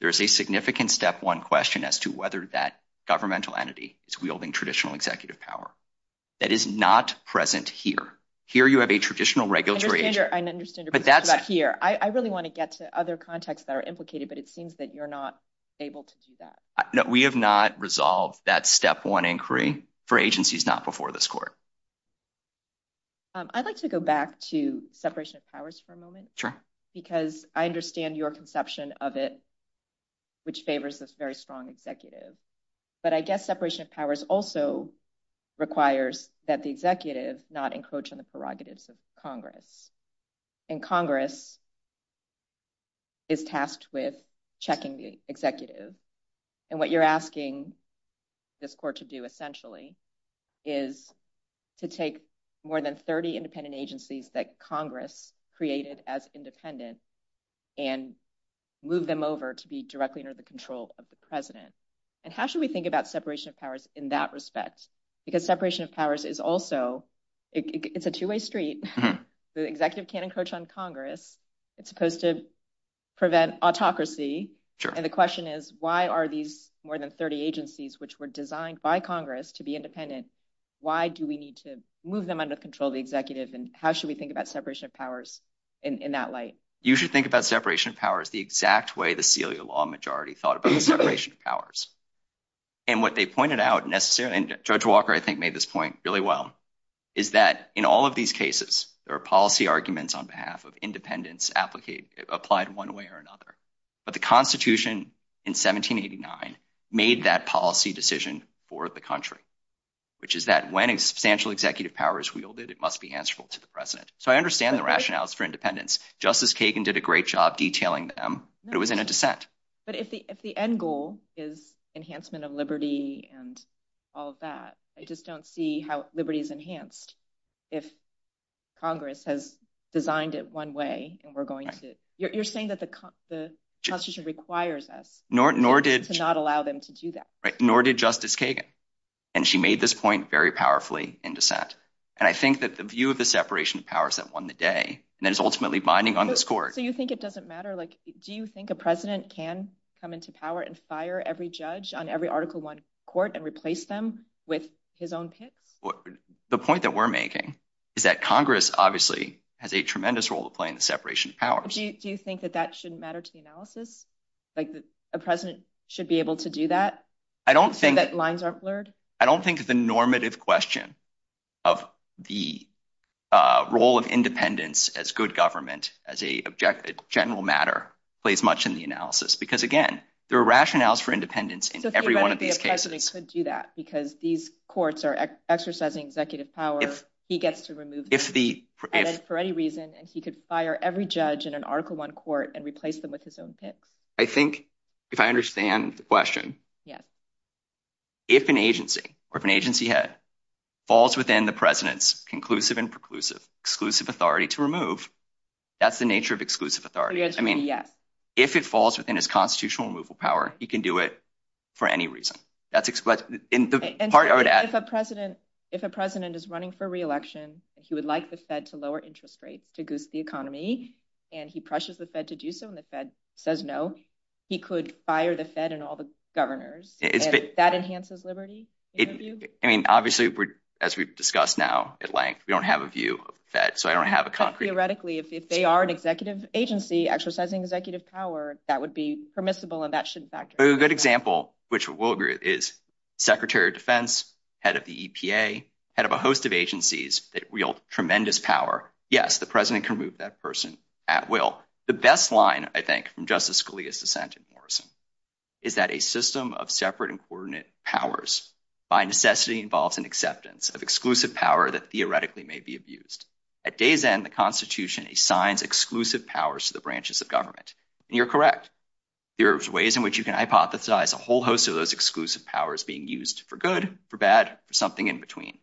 there's a significant step one question as to whether that governmental entity is wielding traditional executive power. That is not present here. Here, you have a traditional regulatory agency. I understand your question about here. I really want to get to other contexts that are implicated, but it seems that you're not able to do that. No, we have not resolved that step one inquiry for agencies not before this court. I'd like to go back to separation of powers for a moment, because I understand your conception of it, which favors this very strong executive. I guess separation of powers also requires that the executive not encroach on the prerogatives of Congress. Congress is tasked with checking the executive. What you're asking this court to do essentially is to take more than 30 independent agencies that Congress created as independent and move them over to be directly under the control of the president. How should we think about separation of powers in that respect? Because separation of powers is also, it's a two-way street. The executive can't encroach on Congress. It's supposed to prevent autocracy. The question is, why are these more than 30 agencies, which were designed by Congress to be independent, why do we need to move them under control of the executive? How should we think about separation of powers in that light? You should think about separation of powers the exact way the Celia law majority thought about separation of powers. What they pointed out necessarily, and Judge Walker, I think, made this point really well, is that in all of these cases, there are policy arguments on behalf of independence applied one way or another. The Constitution in 1789 made that policy decision for the country, which is that when a substantial executive power is wielded, it must be answerable to the president. I understand the rationales for independence. Justice Kagan did a great job detailing them, but it was in a dissent. If the end goal is enhancement of liberty and all of that, I just don't see how liberty is enhanced if Congress has designed it one way. You're saying that the Constitution requires us to not allow them to do that. Nor did Justice Kagan. She made this point very powerfully in dissent. I think that the view of the separation of powers that won the day, and that is ultimately binding on this court. You think it doesn't matter? Do you think a president can come into power and fire every judge on every Article I court and replace them with his own pick? The point that we're making is that Congress, obviously, has a tremendous role to play in the separation of powers. Do you think that that shouldn't matter to the analysis? A president should be able to do that, so that lines aren't blurred? I don't think the normative question of the role of independence as good government, as a general matter, plays much in the analysis. Again, there are rationales for independence in every one of these cases. Do you think a president could do that? Because these courts are exercising executive power, he gets to remove them for any reason, and he could fire every judge in an Article I court and replace them with his own pick. I think, if I understand the question, if an agency or if an agency head falls within the president's conclusive and preclusive, exclusive authority to remove, that's the nature of exclusive authority. I mean, if it falls within his constitutional removal power, he can do it for any reason. If a president is running for re-election, he would like the Fed to lower interest rates to boost the economy, and he pressures the Fed to do so, and the Fed says no, he could fire the Fed and all the governors. If that enhances liberty? I mean, obviously, as we've discussed now at length, we don't have a view of the Fed, so I don't have a concrete... If they are an executive agency exercising executive power, that would be permissible, and that should factor. A good example, which we'll agree, is Secretary of Defense, head of the EPA, head of a host of agencies that wield tremendous power, yes, the president can remove that person at will. The best line, I think, from Justice Scalia's dissent in Morrison is that a system of separate and coordinate powers by necessity involves an exclusive power that theoretically may be abused. At day's end, the Constitution assigns exclusive powers to the branches of government, and you're correct. There are ways in which you can hypothesize a whole host of those exclusive powers being used for good, for bad, for something in between,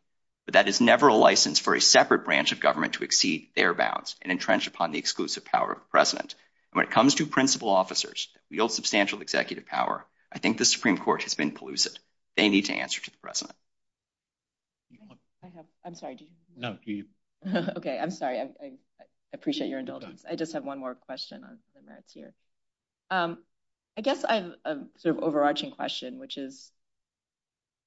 but that is never a license for a separate branch of government to exceed their bounds and entrench upon the exclusive power of the president. When it comes to principal officers that wield substantial executive power, I think the Supreme Court has been elusive. They need to answer to the president. I'm sorry. Okay. I'm sorry. I appreciate your indulgence. I just have one more question on that here. I guess I have an overarching question, which is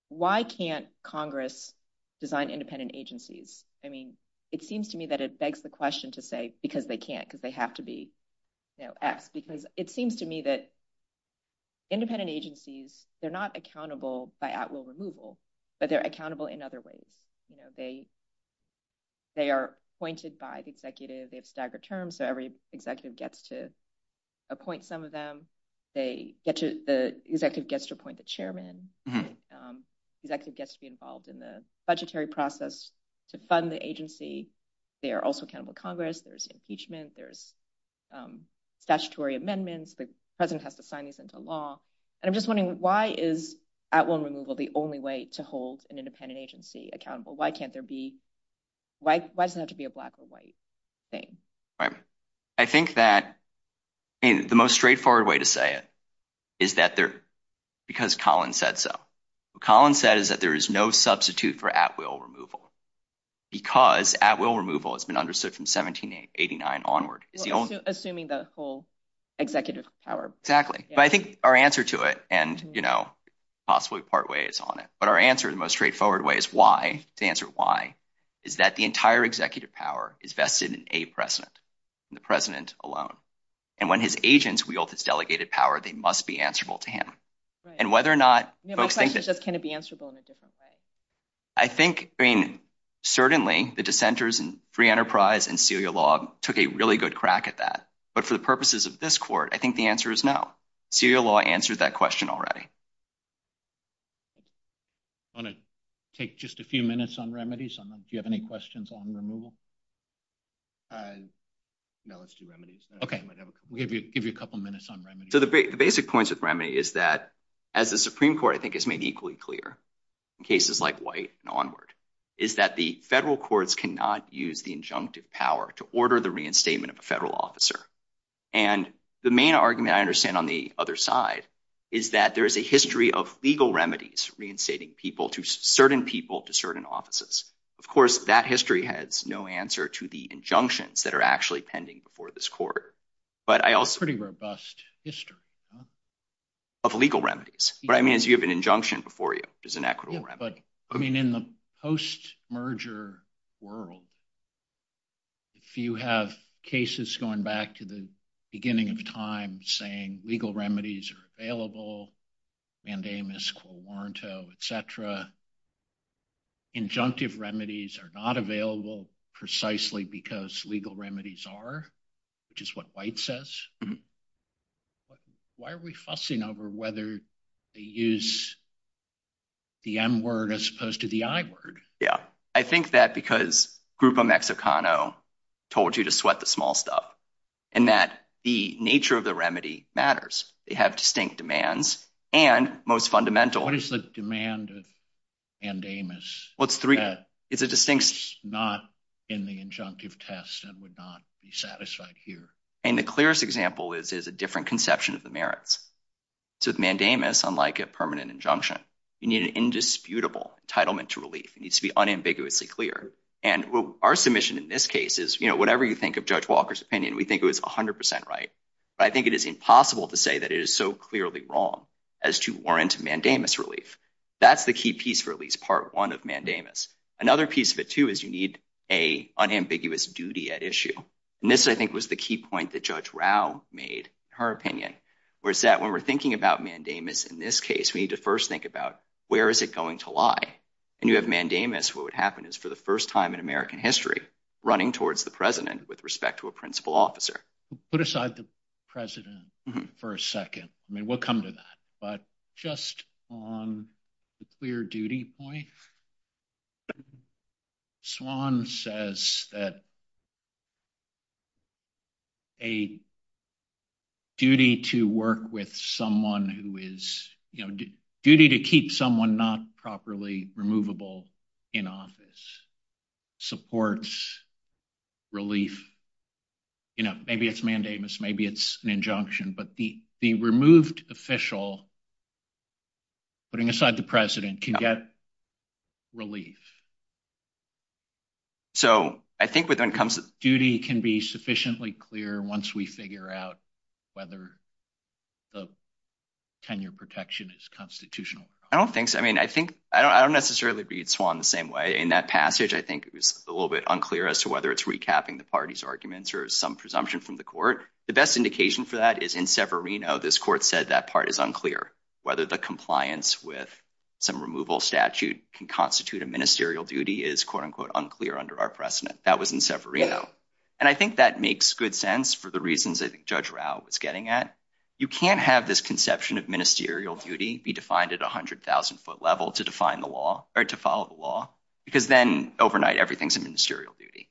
why can't Congress design independent agencies? I mean, it seems to me that it begs the question to say, because they can't, because they have to act, because it seems to me that independent agencies, they're not accountable by at-will removal, but they're accountable in other ways. They are appointed by the executive. They have staggered terms, so every executive gets to appoint some of them. The executive gets to appoint the chairman. The executive gets to be involved in the budgetary process to fund the agency. They are also accountable to Congress. There's impeachment. There's statutory amendments. The president has to sign these into law. I'm just wondering, why is at-will removal the only way to hold an independent agency accountable? Why can't there be... Why doesn't it have to be a black or white thing? I think that the most straightforward way to say it is because Colin said so. Colin says that there is no substitute for at-will removal because at-will removal has been understood from 1789 onward. Assuming the whole executive power. Exactly. I think our answer to it, and possibly partway is on it, but our answer in the most straightforward way is why, to answer why, is that the entire executive power is vested in a president, in the president alone. When his agents wield this delegated power, they must be answerable to him. Whether or not both things... Can it be answerable in a different way? Certainly, the dissenters in free enterprise and serial law took a really good crack at that, but for the purposes of this court, I think the answer is no. Serial law answers that question already. I'm going to take just a few minutes on remedies. Do you have any questions on removal? No, let's do remedies. Okay. We'll give you a couple of minutes on remedies. The basic points of remedy is that, as the Supreme Court, I think, has made equally clear in cases like White and onward, is that the federal courts cannot use the injunctive power to order the reinstatement of a federal officer. The main argument I understand on the other side is that there is a history of legal remedies reinstating people to certain people to certain offices. Of course, that history has no answer to the injunctions that are actually pending before this court, but I also... It's a pretty robust history. Of legal remedies. What I mean is you have an injunction before you, which is an equitable remedy. Yeah, but in the post-merger world, if you have cases going back to the beginning of time saying legal remedies are available, mandamus quo warranto, et cetera, injunctive remedies are not available precisely because legal remedies are, which is what White says. Why are we fussing over whether they use the M word as opposed to the I word? Yeah. I think that because Grupo Mexicano told you to sweat the small stuff and that the nature of the remedy matters. They have distinct demands and most fundamental... What is the demand of mandamus? Well, three... It's a distinct... It's not in the injunctive test and would not be satisfied here. And the clearest example is a different conception of the merits. So mandamus, unlike a permanent injunction, you need an indisputable entitlement to relief. It needs to be unambiguously clear. And our submission in this case is whatever you think of Judge Walker's opinion, we think it was 100% right. But I think it is impossible to say that it is so clearly wrong as to warrant mandamus relief. That's the key piece for at least part one of mandamus. Another piece of it too is you need a unambiguous duty at issue. And this, I think, was the key point that Judge Rao made, her opinion, was that when we're thinking about mandamus in this case, we need to first think about where is it going to lie? And you have mandamus, what would happen is for the first time in American history, running towards the president with respect to a principal officer. Put aside the president for a second. I mean, we'll come to that. But just on the clear duty point, Swan says that a duty to work with someone who is, you know, duty to keep someone not properly removable in office supports relief. You know, maybe it's mandamus, maybe it's an injunction, but the removed official, putting aside the president, can get relief. So I think when it comes to duty can be sufficiently clear once we figure out whether the tenure protection is constitutional. I don't think so. I mean, I think, I don't necessarily read Swan the same way. In that passage, I think it was a little bit unclear as to whether it's recapping the party's arguments or some presumption from the court. The best indication for that is in Severino, this court said that part is unclear. Whether the compliance with some removal statute can constitute a ministerial duty is quote unquote unclear under our precedent. That was in Severino. And I think that makes good sense for the reasons I think Judge Rao was getting at. You can't have this conception of ministerial duty be defined at a hundred thousand foot level to define the law or to follow the law, because then overnight everything's a ministerial duty.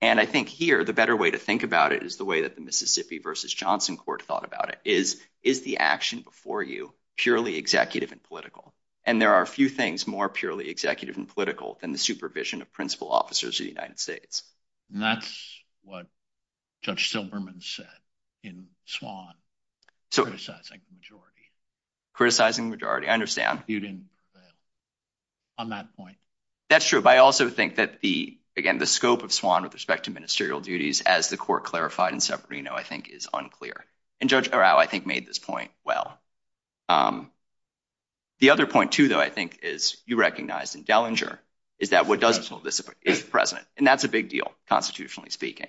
And I think here, the better way to think about it is the way that the Mississippi versus Johnson court thought about it is, is the action before you purely executive and political? And there are a few things more purely executive and political than the supervision of principal officers in the United States. And that's what Judge Stilberman said in Swan, criticizing majority. Criticizing majority. I understand. You didn't on that point. That's true. But I also think that the, again, the scope of Swan with respect to ministerial duties as the court clarified in Severino, I think is unclear. And Judge Rao, I think made this point well. The other point too, I think is you recognize in Dellinger is that what doesn't solve this is the president. And that's a big deal, constitutionally speaking.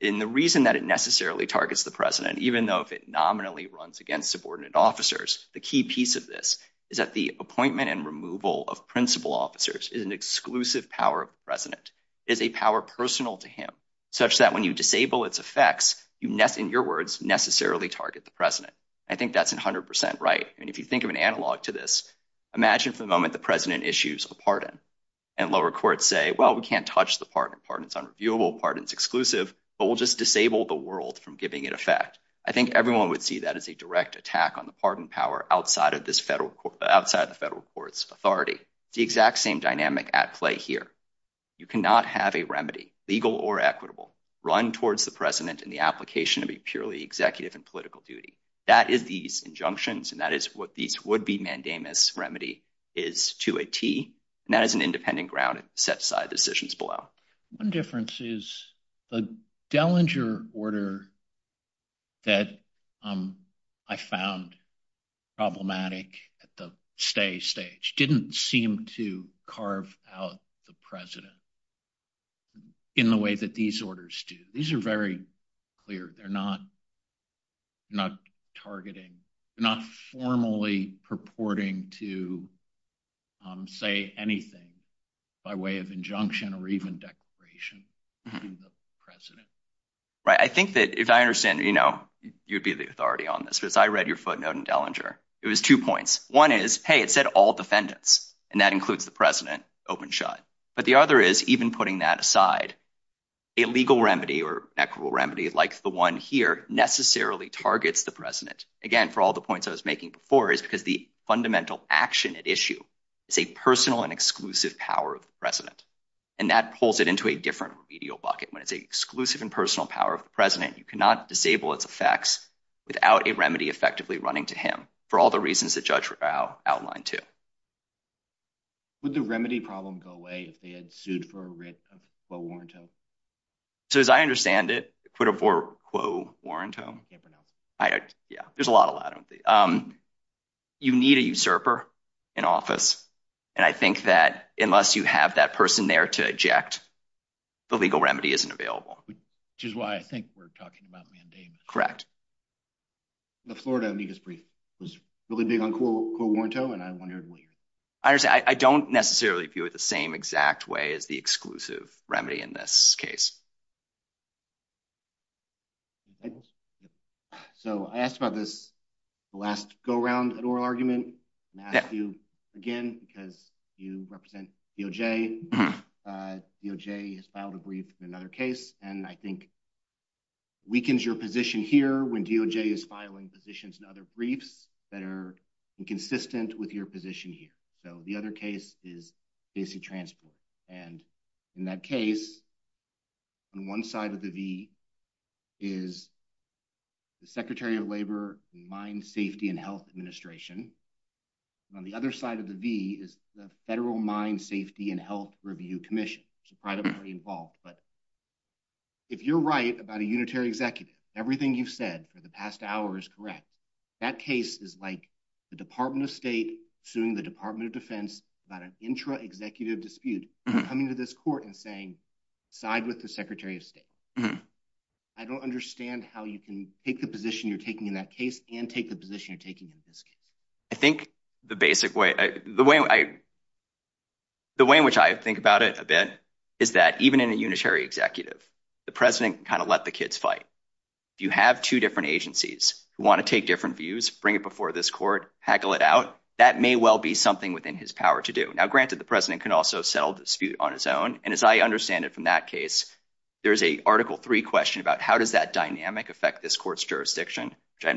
And the reason that it necessarily targets the president, even though if it nominally runs against subordinate officers, the key piece of this is that the appointment and removal of principal officers is an exclusive power of the president, is a power personal to him, such that when you disable its effects, in your words, necessarily target the president. I think that's a hundred percent right. And if you think of an analog to this, imagine for a moment, the president issues a pardon and lower courts say, well, we can't touch the pardon. Pardon is unreviewable, pardon is exclusive, but we'll just disable the world from giving it effect. I think everyone would see that as a direct attack on the pardon power outside of this federal court, outside of the federal court's authority. The exact same dynamic at play here. You cannot have a remedy, legal or equitable, run towards the president in the application to be purely executive and political duty. That is these injunctions. And that is what these would be mandamus remedy is to a T and as an independent ground set side decisions below. One difference is the Dellinger order that I found problematic at the stay stage didn't seem to carve out the president in the way that these orders do. These are very clear. They're not not targeting, not formally purporting to say anything by way of injunction or even declaration in the president. Right. I think that if I understand, you know, you'd be the authority on this. If I read your footnote in Dellinger, it was two points. One is, hey, it said all defendants and that includes the president open shot. But the other is even putting that aside, a legal remedy or equitable remedy, like the one here necessarily targets the president. Again, for all the points I was making before is because the fundamental action at issue is a personal and exclusive power of the president. And that pulls it into a different remedial bucket when it's a exclusive and personal power of the president. You cannot disable its effects without a remedy effectively running to him for all the reasons that judge outlined to. Would the remedy problem go away if they had sued for a warrant? So as I understand it, equitable warrant. Yeah, there's a lot of them. You need a usurper in office. And I think that unless you have that person there to object, the legal remedy isn't available, which is why I think we're talking about correct. But Florida, I mean, his brief was really big on cool, cool, warm tone. And I wondered, I understand. I don't necessarily view it the same exact way as the exclusive remedy in this case. So I asked about this last go around an oral argument. Matthew, again, because you represent DOJ, DOJ filed a brief in another case, and I think weakens your position here. When DOJ is filing positions and other briefs that are inconsistent with your position here. So the other case is AC Transport. And in that case, on one side of the V is the Secretary of Labor, the Mine Safety and Health Administration. On the other side of the V is the Federal Mine Safety and Health Review Commission, which is privately involved. But if you're right about a unitary executive, everything you've said for the past hour is correct. That case is like the Department of State suing the Department of Defense about an intra-executive dispute, coming to this court and saying, side with the Secretary of State. I don't understand how you can take the position you're taking in that case and take the position you're taking in this case. I think the basic way, the way in which I think about it a bit is that even in a unitary executive, the President can kind of let the kids fight. If you have two different agencies who want to take different views, bring it before this court, haggle it out, that may well be something within his power to do. Now, granted, the President can also settle dispute on his own. And as I understand it from that case, there's a Article III question about how does that dynamic affect this court's jurisdiction, which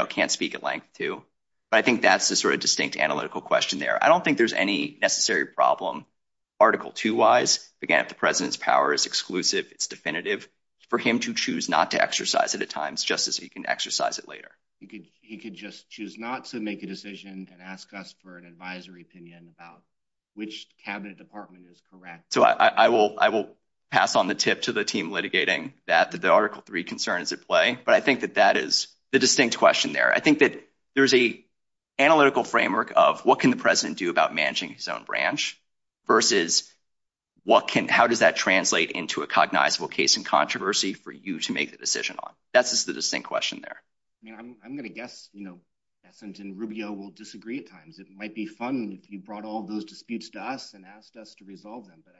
I can't speak at length to. But I think that's the sort of distinct analytical question there. I don't think there's any necessary problem Article II-wise. Again, the President's power is exclusive. It's definitive for him to choose not to exercise it at times, just as he can exercise it later. He could just choose not to make a decision and ask us for an advisory opinion about which cabinet department is correct. So I will pass on the tip to the team litigating that the Article III concern is at play. But I think that that is the distinct question there. I think that there's a analytical framework of what can the President do about managing his own branch versus how does that translate into a cognizable case in controversy for you to make the decision on? That's the distinct question there. Yeah, I'm going to guess, you know, Ethans and Rubio will disagree at times. It might be fun if he brought all those disputes to us and asked us to resolve them. But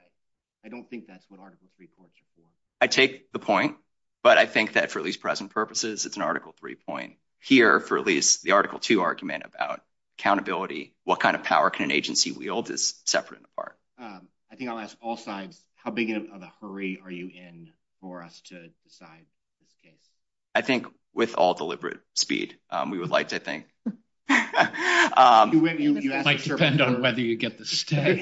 I don't think that's what Article III points you to. I take the point. But I think that for at least present purposes, it's an Article III point. Here, for at least the Article II argument about accountability, what kind of power can an agency wield is separate and apart. I think I'll ask all sides. How big of a hurry are you in for us to decide? I think with all deliberate speed, we would like to think. It might depend on whether you get the stay.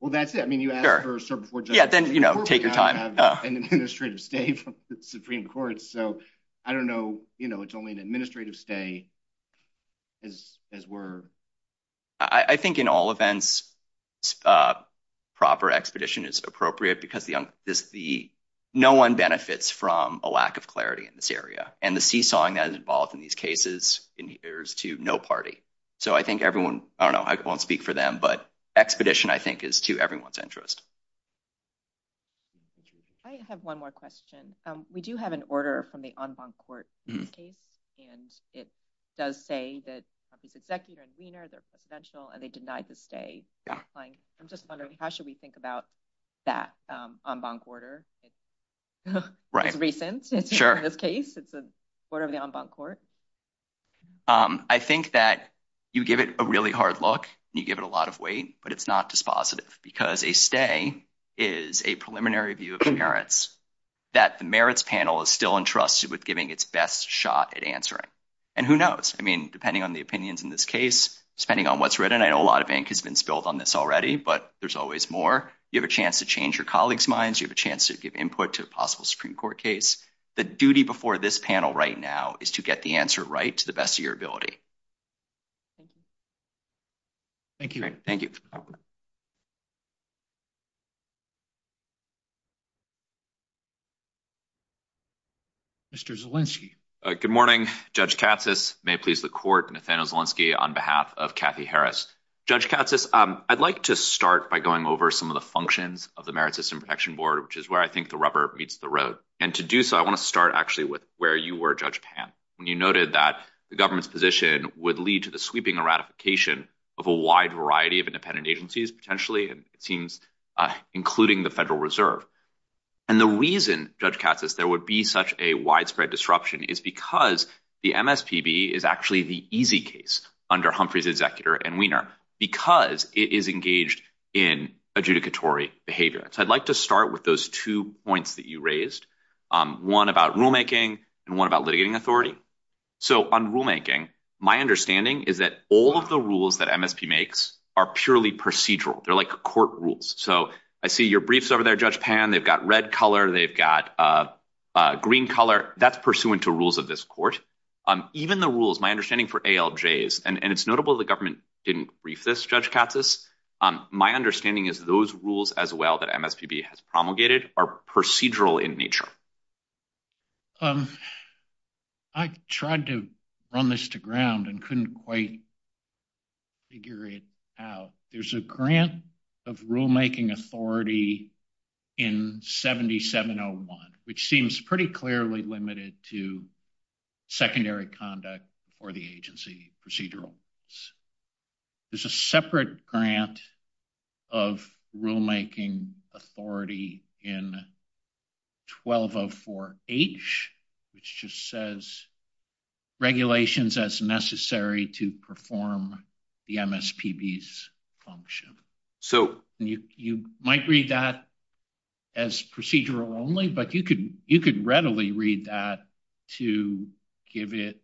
Well, that's it. I mean, you ask for support. Yeah, then, you know, take your time. I don't have an administrative stay from the Supreme Court. So I don't know. You know, it's only an administrative stay as we're... I think in all events, proper expedition is appropriate because no one benefits from a lack of clarity in this area. And the seesawing that is involved in these cases is to no party. So I think everyone, I don't know, I won't speak for them. But expedition, I think, is to everyone's interest. I have one more question. We do have order from the en banc court in this case. And it does say that the executive conveners are presidential and they denied the stay. I'm just wondering, how should we think about that en banc order? It's recent in this case. It's the order of the en banc court. I think that you give it a really hard look and you give it a lot of weight, but it's not positive because a stay is a preliminary view of inheritance that the merits panel is still entrusted with giving its best shot at answering. And who knows? I mean, depending on the opinions in this case, depending on what's written, I know a lot of ink has been spilled on this already, but there's always more. You have a chance to change your colleagues' minds. You have a chance to give input to a possible Supreme Court case. The duty before this panel right now is to get the answer right to the best of your ability. Thank you. Mr. Zielinski. Good morning, Judge Cassis. May it please the court, Nathaniel Zielinski on behalf of Kathy Harris. Judge Cassis, I'd like to start by going over some of the functions of the Merit System Protection Board, which is where I think the rubber meets the road. And to do so, I want to start actually with where you were, Judge Pan. You noted that the government's position would lead to the sweeping ratification of a wide variety of independent agencies, potentially, including the Federal Reserve. And the reason, Judge Cassis, there would be such a widespread disruption is because the MSTB is actually the easy case under Humphrey's executor and Weiner, because it is engaged in adjudicatory behavior. So I'd like to start with those two points that you raised, one about rulemaking and one about litigating authority. So on rulemaking, my understanding is that all of the rules that MSTB makes are purely procedural. They're like court rules. So I see your briefs over there, Judge Pan. They've got red color. They've got green color. That's pursuant to rules of this court. Even the rules, my understanding for ALJs, and it's notable the government didn't brief this, Judge Cassis. My understanding is those rules as well that MSTB has promulgated are procedural in nature. I tried to run this to ground and couldn't quite figure it out. There's a grant of rulemaking authority in 7701, which seems pretty clearly limited to secondary conduct for the agency procedural. There's a separate grant of rulemaking authority in 1204H, which just says regulations as necessary to perform the MSPB's function. So you might read that as procedural only, but you could readily read that to give it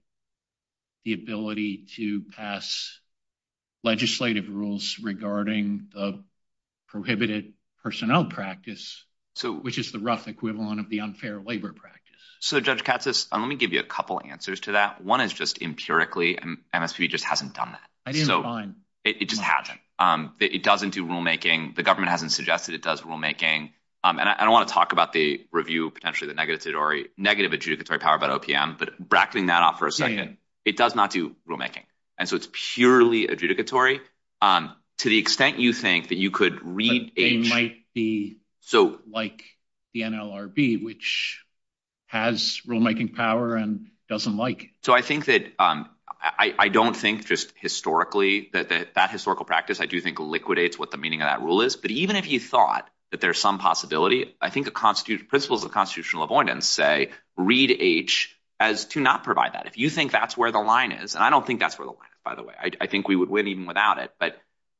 the ability to pass legislative rules regarding the prohibited personnel practice, which is the rough equivalent of the unfair labor practice. So Judge Cassis, let me give you a couple answers to that. One is just empirically MSTB just hasn't done that. It just hasn't. It doesn't do rulemaking. The I don't want to talk about the review, potentially the negative adjudicatory power about OPM, but bracketing that off for a second, it does not do rulemaking. And so it's purely adjudicatory. To the extent you think that you could read- It might be like the NLRB, which has rulemaking power and doesn't like it. So I think that, I don't think just historically that that historical practice, I do think liquidates what the meaning of that rule is. But even if you thought that there's some possibility, I think the principles of constitutional avoidance say read H as to not provide that. If you think that's where the line is, and I don't think that's where the line is, by the way, I think we would win even without it. But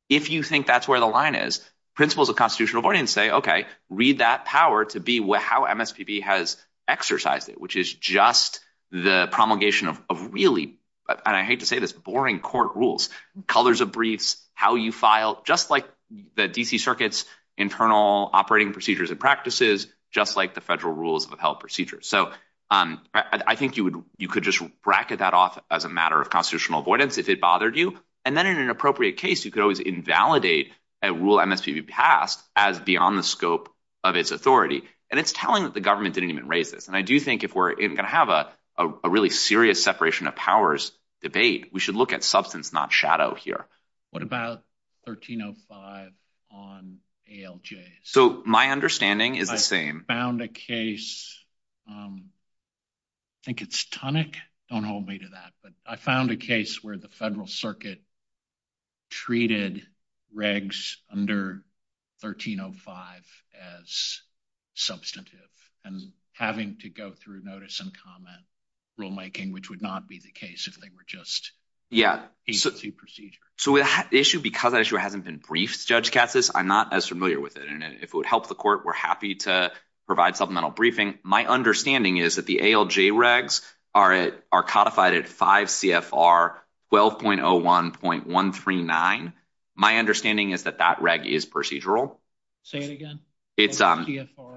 if you think that's where the line is, principles of constitutional avoidance say, okay, read that power to be how MSPB has exercised it, which is just the promulgation of really, and I hate to say this, boring court rules, colors of briefs, how you file, just like the DC circuits, internal operating procedures and practices, just like the federal rules of health procedures. So I think you could just bracket that off as a matter of constitutional avoidance if it bothered you. And then in an appropriate case, you could always invalidate a rule MSPB passed as beyond the scope of its authority. And it's telling that the government didn't even raise this. And I do think if we're going to have a really serious separation of debate, we should look at substance, not shadow here. What about 1305 on ALJ? So my understanding is the same. I found a case, I think it's Tunick, don't hold me to that, but I found a case where the federal circuit treated regs under 1305 as substantive and having to go through notice and comment rulemaking, which would not be the case if they were just... Yeah. So the issue, because I haven't been briefed, Judge Katsas, I'm not as familiar with it. And if it would help the court, we're happy to provide supplemental briefing. My understanding is that the ALJ regs are codified at 5 CFR 12.01.139. My understanding is that that reg is procedural. Say it again. It's 5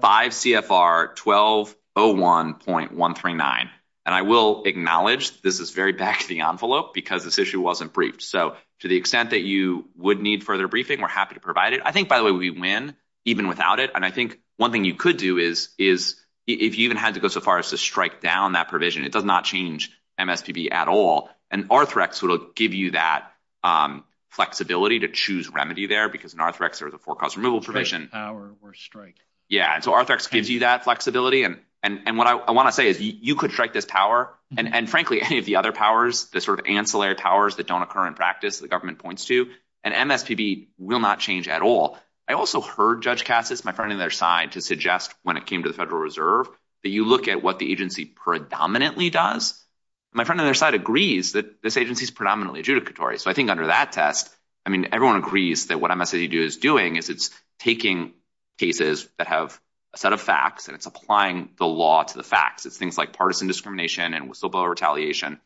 CFR 12.01.139. And I will acknowledge this is very back of the envelope because this issue wasn't briefed. So to the extent that you would need further briefing, we're happy to provide it. I think by the way, we've been even without it. And I think one thing you could do is if you even had to go so far as to strike down that provision, it does not change MSPB at all. And RTHREX would give you that flexibility to choose remedy there because in RTHREX, there's a forecast removal provision. Power or strike. Yeah. And so RTHREX gives you that flexibility. And what I want to say is you could strike this power. And frankly, any of the other powers, the sort of ancillary powers that don't occur in practice, the government points to, an MSPB will not change at all. I also heard Judge Katsas, my friend on their side, to suggest when it came to the Federal Reserve, that you look at what the agency predominantly does. My friend on their side agrees that this agency is predominantly adjudicatory. So I think under that test, I mean, everyone agrees that what MSPB is doing is it's taking cases that have a set of facts and it's applying the law to the facts. It's things like partisan discrimination and whistleblower retaliation.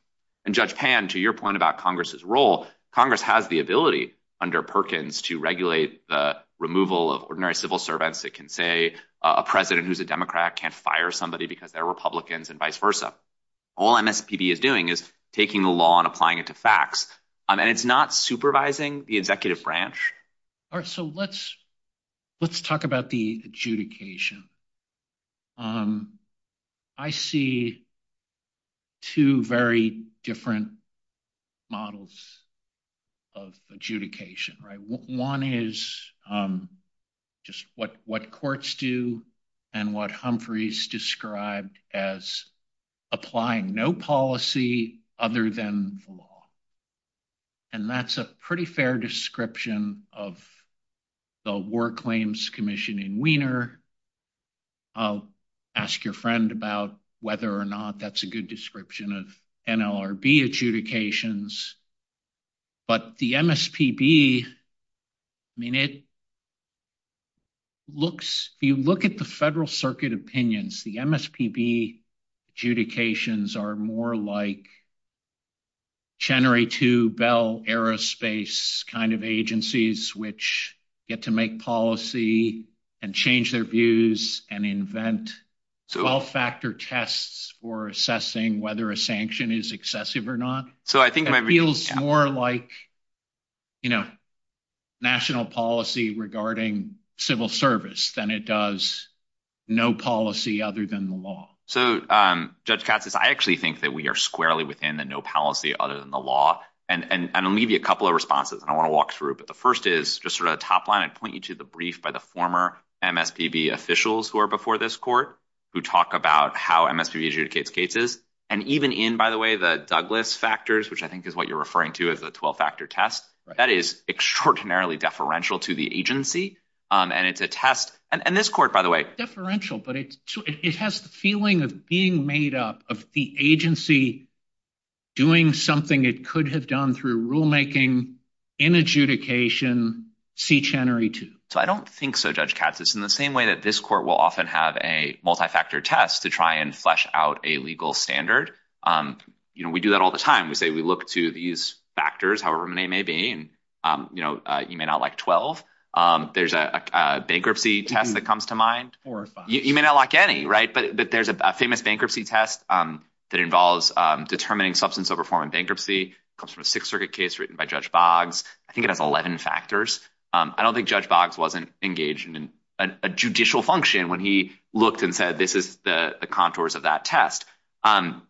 And Judge Pan, to your point about Congress's role, Congress has the ability under Perkins to regulate the removal of ordinary civil servants that can say a president who's a Democrat can't fire somebody because they're vice versa. All MSPB is doing is taking the law and applying it to facts. And it's not supervising the executive branch. All right. So let's talk about the adjudication. I see two very different models of adjudication, right? One is just what courts do and what described as applying no policy other than the law. And that's a pretty fair description of the War Claims Commission in Wiener. I'll ask your friend about whether or not that's a good description of NLRB adjudications. But the MSPB, I mean, it looks, you look at the federal circuit opinions, the MSPB adjudications are more like January 2 Bell Aerospace kind of agencies, which get to make policy and change their views and invent 12-factor tests for assessing whether a sanction is excessive or not. It feels more like you know, national policy regarding civil service than it does no policy other than the law. So Judge Katsas, I actually think that we are squarely within the no policy other than the law. And I'm going to leave you a couple of responses and I want to walk through it. But the first is just sort of a top line. I point you to the brief by the former MSPB officials who are before this court who talk about how MSPB adjudicates cases. And even in, by the way, the Douglas factors, which I think is what you're referring to as a 12-factor test, that is extraordinarily deferential to the agency. And it's a test, and this court, by the way. Deferential, but it has the feeling of being made up of the agency doing something it could have done through rulemaking in adjudication, see January 2. So I don't think so, Judge Katsas, in the same way that this court will often have a multi-factor test to try and flesh out a legal standard. You know, we do that all the time, we look to these factors, however many may be, and you may not like 12. There's a bankruptcy test that comes to mind. You may not like any, right? But there's a famous bankruptcy test that involves determining substance over foreign bankruptcy. Comes from a Sixth Circuit case written by Judge Boggs. I think it has 11 factors. I don't think Judge Boggs wasn't engaged in a judicial function when he looked and said, this is the contours of that test. And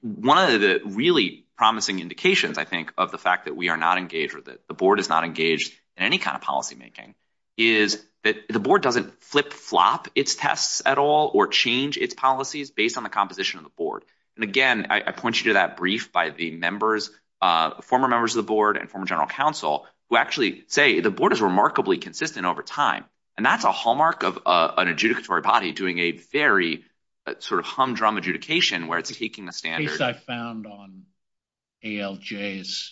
one of the really promising indications, I think, of the fact that we are not engaged with it, the board is not engaged in any kind of policymaking is that the board doesn't flip-flop its tests at all or change its policies based on the composition of the board. And again, I point you to that brief by the members, former members of the board and former general counsel who actually say the board is remarkably consistent over time. And that's a humdrum adjudication where it's taking the standard. The case I found on ALJs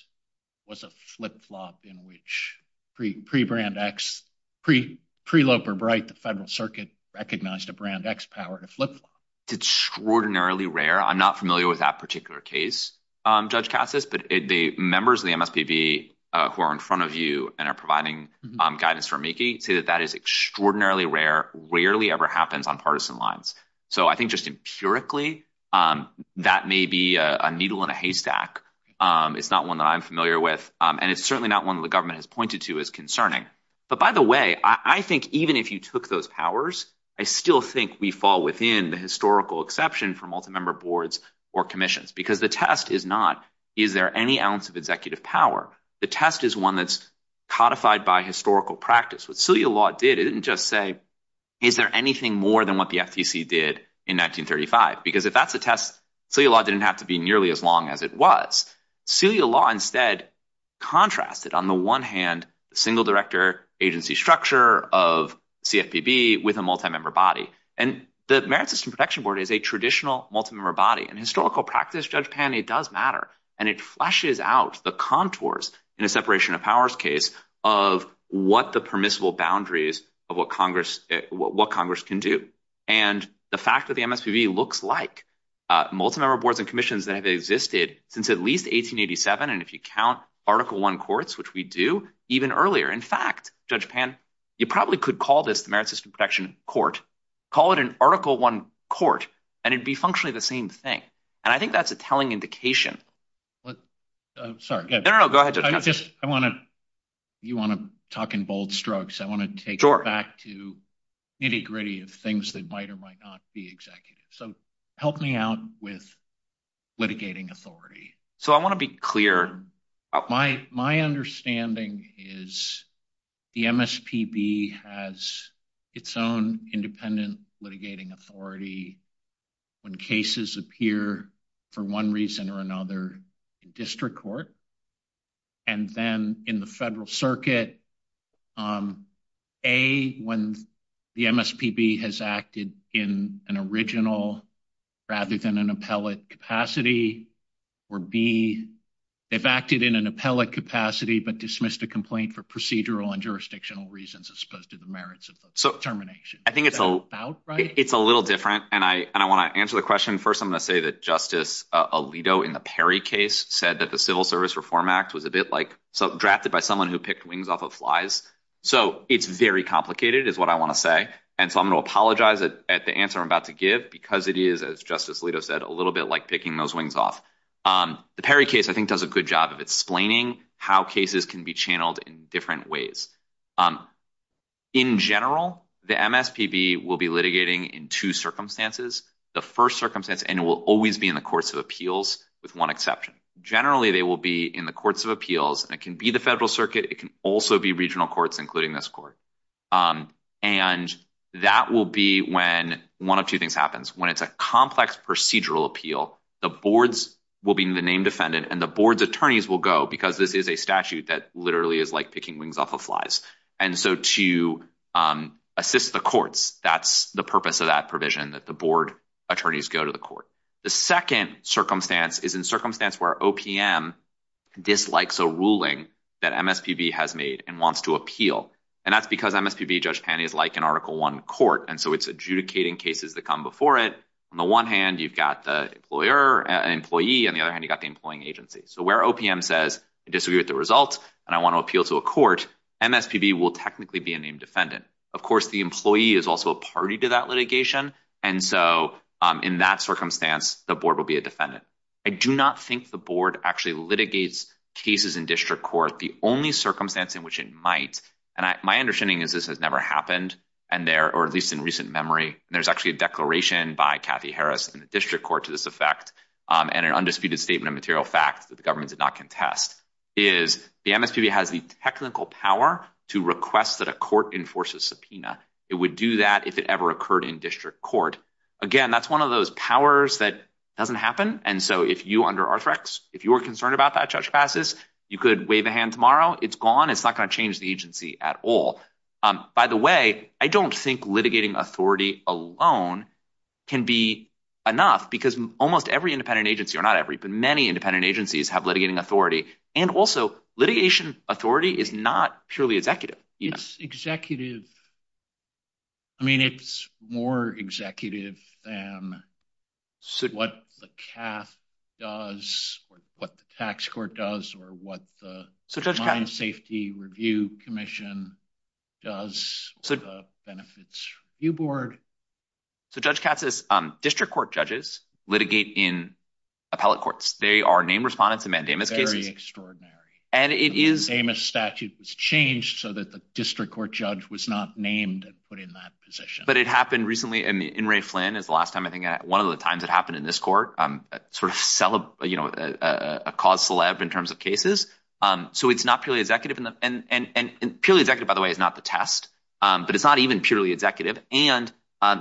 was a flip-flop in which pre-Loeb or Bright, the Federal Circuit recognized a brand X power to flip-flop. It's extraordinarily rare. I'm not familiar with that particular case, Judge Cassis, but the members of the MSPB who are in front of you and are providing guidance for Mickey say that that is extraordinarily rare, rarely ever happens on partisan lines. So I think just empirically, that may be a needle in a haystack. It's not one that I'm familiar with. And it's certainly not one that the government has pointed to as concerning. But by the way, I think even if you took those powers, I still think we fall within the historical exception for multi-member boards or commissions because the test is not, is there any ounce of executive power? The test is one that's codified by historical practice. What Celia Law did, it didn't just say, is there anything more than what the FTC did in 1935? Because if that's the test, Celia Law didn't have to be nearly as long as it was. Celia Law instead contrasted on the one hand, single director agency structure of CFPB with a multi-member body. And the Merit System Protection Board is a traditional multi-member body. In historical practice, Judge Pan, it does matter. And it flushes out the contours in a separation of powers case of what the permissible boundaries of what Congress can do. And the fact that the MSPB looks like multi-member boards and commissions that have existed since at least 1887. And if you count Article I courts, which we do even earlier, in fact, Judge Pan, you probably could call this Merit System Protection Court, call it an Article I Court, and it'd be functionally the same thing. And I think that's a telling indication. Sorry. No, no, no. Go ahead. You want to talk in bold strokes. I want to take it back to nitty gritty of things that might or might not be executive. So help me out with litigating authority. So I want to be clear. My understanding is the MSPB has its own independent litigating authority when cases appear for one reason or another in district court. And then in the federal circuit, A, when the MSPB has acted in an original rather than an appellate capacity, or B, they've acted in an appellate capacity but dismissed a complaint for procedural and jurisdictional reasons as opposed to the merits of the termination. Is that about right? It's a little different. And I want to answer the question. First, I'm going to say that Justice Alito in the Perry case said that the Civil Service Reform Act was a bit like drafted by someone who picked wings off of flies. So it's very complicated is what I want to say. And so I'm going to apologize at the answer I'm about to give because it is, as Justice Alito said, a little bit like picking those wings off. The Perry case, I think, does a good job of explaining how cases can be channeled in different ways. In general, the MSPB will be litigating in two circumstances. The first circumstance, and it will always be in the courts of appeals, with one exception. Generally, they will be in the courts of appeals, and it can be the federal circuit. It can also be regional courts, including this court. And that will be when one of two things happens. When it's a complex procedural appeal, the boards will be in the name defendant, and the board's attorneys will go because this is a statute that literally is like picking wings off of flies. And so to assist the courts, that's the purpose of that provision, that the board attorneys go to the court. The second circumstance is in circumstance where OPM dislikes a ruling that MSPB has made and wants to appeal. And that's because MSPB, Judge Tanney, is like an Article I court. And so it's adjudicating cases that come before it. On the one hand, you've got the employer, an employee. On the other hand, you've got the employing agency. So where OPM says, I disagree with the results and I want to appeal to a court, MSPB will technically be a named defendant. Of course, the employee is also a party to that litigation. And so in that circumstance, the board will be a defendant. I do not think the board actually litigates cases in district court. The only circumstance in which it might, and my understanding is this has never happened, or at least in recent memory, there's actually a declaration by Kathy Harris in the district court to this effect, and an undisputed statement of material fact that the government did not contest, is the MSPB has the technical power to request that a court enforces subpoena. It would do that if it ever occurred in district court. Again, that's one of those powers that doesn't happen. And so if you under RFREX, if you were concerned about that, Judge Bassis, you could wave a hand tomorrow. It's gone. It's not going to change the agency at all. By the way, I don't think authority alone can be enough because almost every independent agency, or not every, but many independent agencies have litigating authority. And also litigation authority is not truly executive. It's executive. I mean, it's more executive than what the CAF does, what the tax court does, or what the Crime Safety Review Commission does, the Benefits Review Board. So Judge Katz says district court judges litigate in appellate courts. They are name respondents in mandamus cases. Very extraordinary. And it is- The mandamus statute was changed so that the district court judge was not named and put in that position. But it happened recently, in the In re Flynn is the last time I think, one of the times it happened in this court, sort of a cause celebre in terms of cases. So it's not purely executive. And purely executive, by the way, is not the test, but it's not even purely executive. And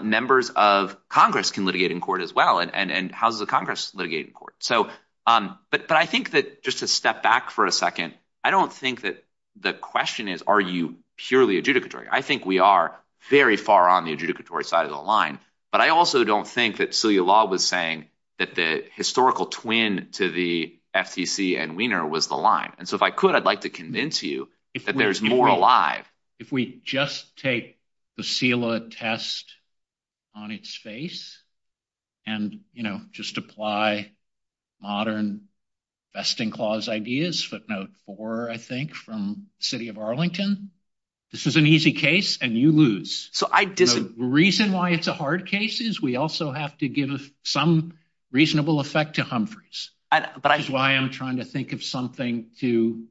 members of Congress can litigate in court as well. And how does the Congress litigate in court? But I think that just to step back for a second, I don't think that the question is, are you purely adjudicatory? I think we are very far on the adjudicatory side of the line. But I also don't think that the law was saying that the historical twin to the FTC and Wiener was the line. And so if I could, I'd like to convince you that there's more alive. If we just take the CELA test on its face and just apply modern vesting clause ideas, footnote four, I think, from city of Arlington, this was an easy case and you lose. So I didn't- The reason why it's a hard case is we also have to give some reasonable effect to Humphreys. That's why I'm trying to think of something to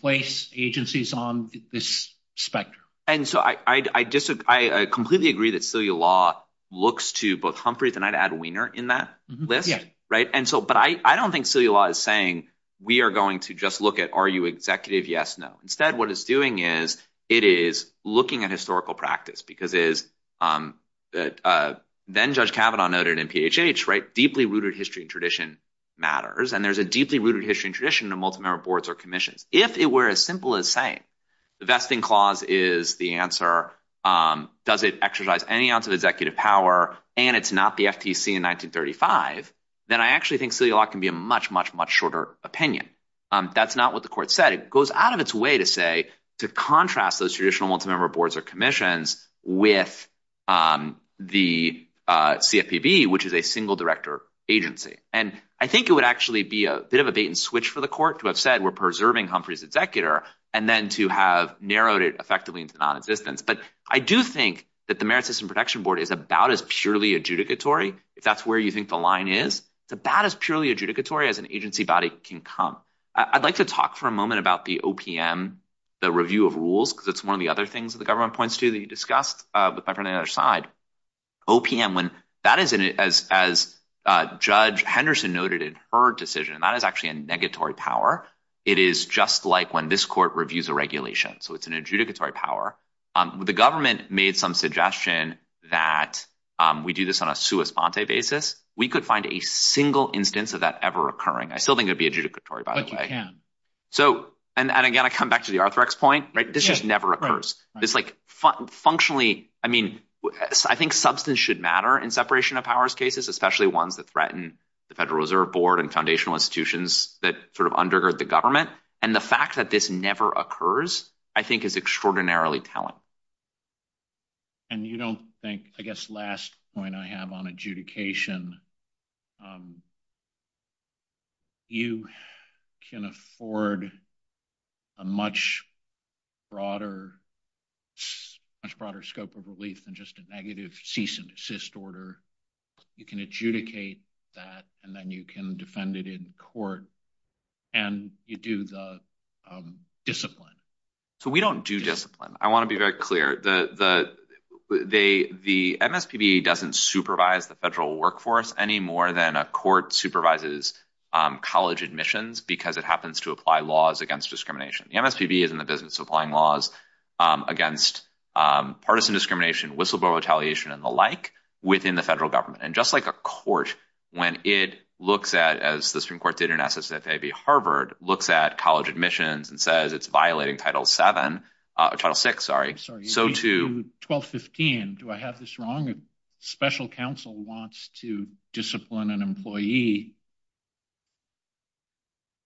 place agencies on this specter. And so I completely agree that CELA law looks to both Humphreys and I'd add Wiener in that list. Yeah. Right? And so, but I don't think CELA law is saying we are going to just look at, are you executive? Yes, no. Instead, what it's doing is it is looking at historical practice, because then Judge Kavanaugh noted in MPHH, deeply rooted history and tradition matters. And there's a deeply rooted history and tradition of multi-member boards or commission. If it were as simple as saying the vesting clause is the answer, does it exercise any ounce of executive power and it's not the FTC in 1935, then I actually think CELA law can be a much, much, much shorter opinion. That's not what the court said. It goes out of its way to say, to contrast those traditional multi-member boards or commissions with the CFPB, which is a single director agency. And I think it would actually be a bit of a bait and switch for the court to have said, we're preserving Humphreys executor and then to have narrowed it effectively into non-existence. But I do think that the Merit System Protection Board is about as purely adjudicatory. If that's where you think the line is, it's about as purely adjudicatory as an agency body can come. I'd like to talk for a moment about the OPM, the review of rules, because it's one of the other things that the government points to that you discussed, but on the other side. OPM, as Judge Henderson noted in her decision, that is actually a negatory power. It is just like when this court reviews a regulation. So it's an adjudicatory power. The government made some suggestion that we do this on a sua sponte basis. We could find a single instance of that ever occurring. I still think it would be adjudicatory by the way. So, and again, I come back to the Arthrex point, right? This just never occurs. It's like functionally, I mean, I think substance should matter in separation of powers cases, especially ones that threaten the Federal Reserve Board and foundational institutions that sort of undergird the government. And the fact that this never occurs, I think is extraordinarily telling. And you don't think, I guess, last point I have on adjudication, you can afford a much broader scope of relief than just a negative cease and desist order. You can adjudicate that and then you can defend it in court and you do the discipline. So we don't do discipline. I want to be very clear. The MSPB doesn't supervise the federal workforce any more than a court supervises college admissions, because it happens to apply laws against discrimination. The MSPB is in the business of applying laws against partisan discrimination, whistleblower retaliation, and the like within the federal government. And just like a court, when it looks at, as the Supreme Court did in SSA v Harvard, looks at college admissions and says it's violating Title VII, Title VI, so to- In 1215, do I have this wrong? A special counsel wants to discipline an employee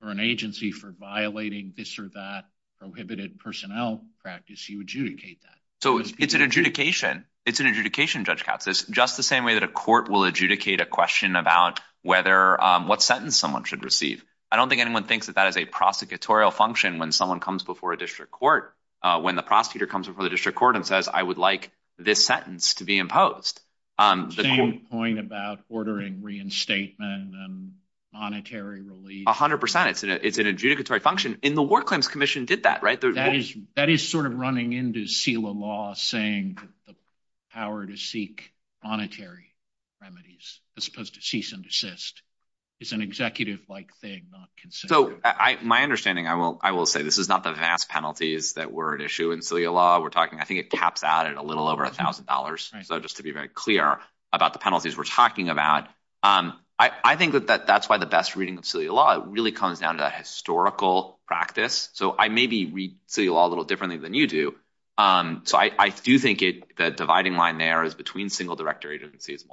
or an agency for violating this or that prohibited personnel practice, you adjudicate that. So it's an adjudication. It's an adjudication, Judge Katz. It's just the same way that a court will adjudicate a question about what sentence someone should receive. I don't think anyone thinks that that is a prosecutorial function when someone comes before a district court. When the prosecutor comes before the district court and says, I would like this sentence to be imposed- Same point about ordering reinstatement and monetary relief. A hundred percent. It's an adjudicatory function. And the Ward Claims Commission did that, right? That is sort of running into SILA law saying the power to seek monetary remedies, as opposed to cease and desist. It's an executive-like thing, not consent. My understanding, I will say, this is not the vast penalties that were at issue in SILA law. We're talking, I think it caps out at a little over a thousand dollars. So just to be very clear about the penalties we're talking about. I think that that's why the best reading of SILA law, it really comes down to historical practice. So I maybe read SILA law a little differently than you do. So I do think the dividing line there is between single director agencies,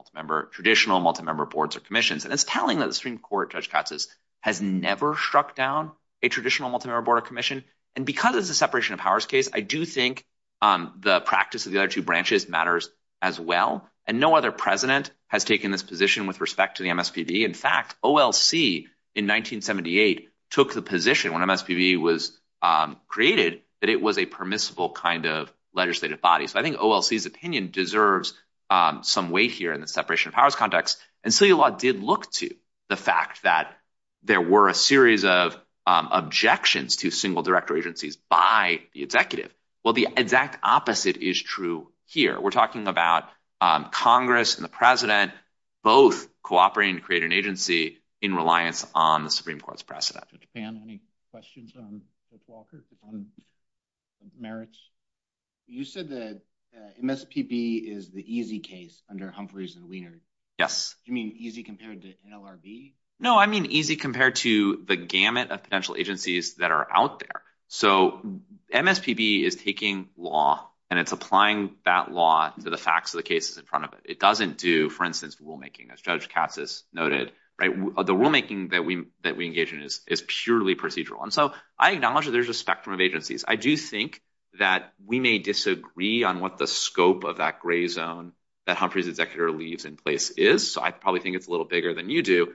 traditional multi-member boards of commissions. And it's telling that the Supreme Court, Judge struck down a traditional multi-member board of commission. And because of the separation of powers case, I do think the practice of the other two branches matters as well. And no other president has taken this position with respect to the MSPB. In fact, OLC in 1978 took the position when MSPB was created, that it was a permissible kind of legislative body. So I think OLC's opinion deserves some weight here in the separation of powers context. And SILA law did look to the fact that there were a series of objections to single director agencies by the executive. Well, the exact opposite is true here. We're talking about Congress and the president, both cooperating to create an agency in reliance on the Supreme Court's precedent. Dan, any questions on Merit's? You said that MSPB is the easy case under Humphreys and Wieners. Do you mean easy compared to NLRB? No, I mean, easy compared to the gamut of potential agencies that are out there. So MSPB is taking law and it's applying that law to the facts of the cases in front of it. It doesn't do, for instance, rulemaking as Judge Katsas noted. The rulemaking that we engage in is purely procedural. And so I acknowledge that there's a spectrum of agencies. I do think that we may disagree on what the scope of that gray zone that Humphreys executive leaves in place is. So I probably think it's a little bigger than you do.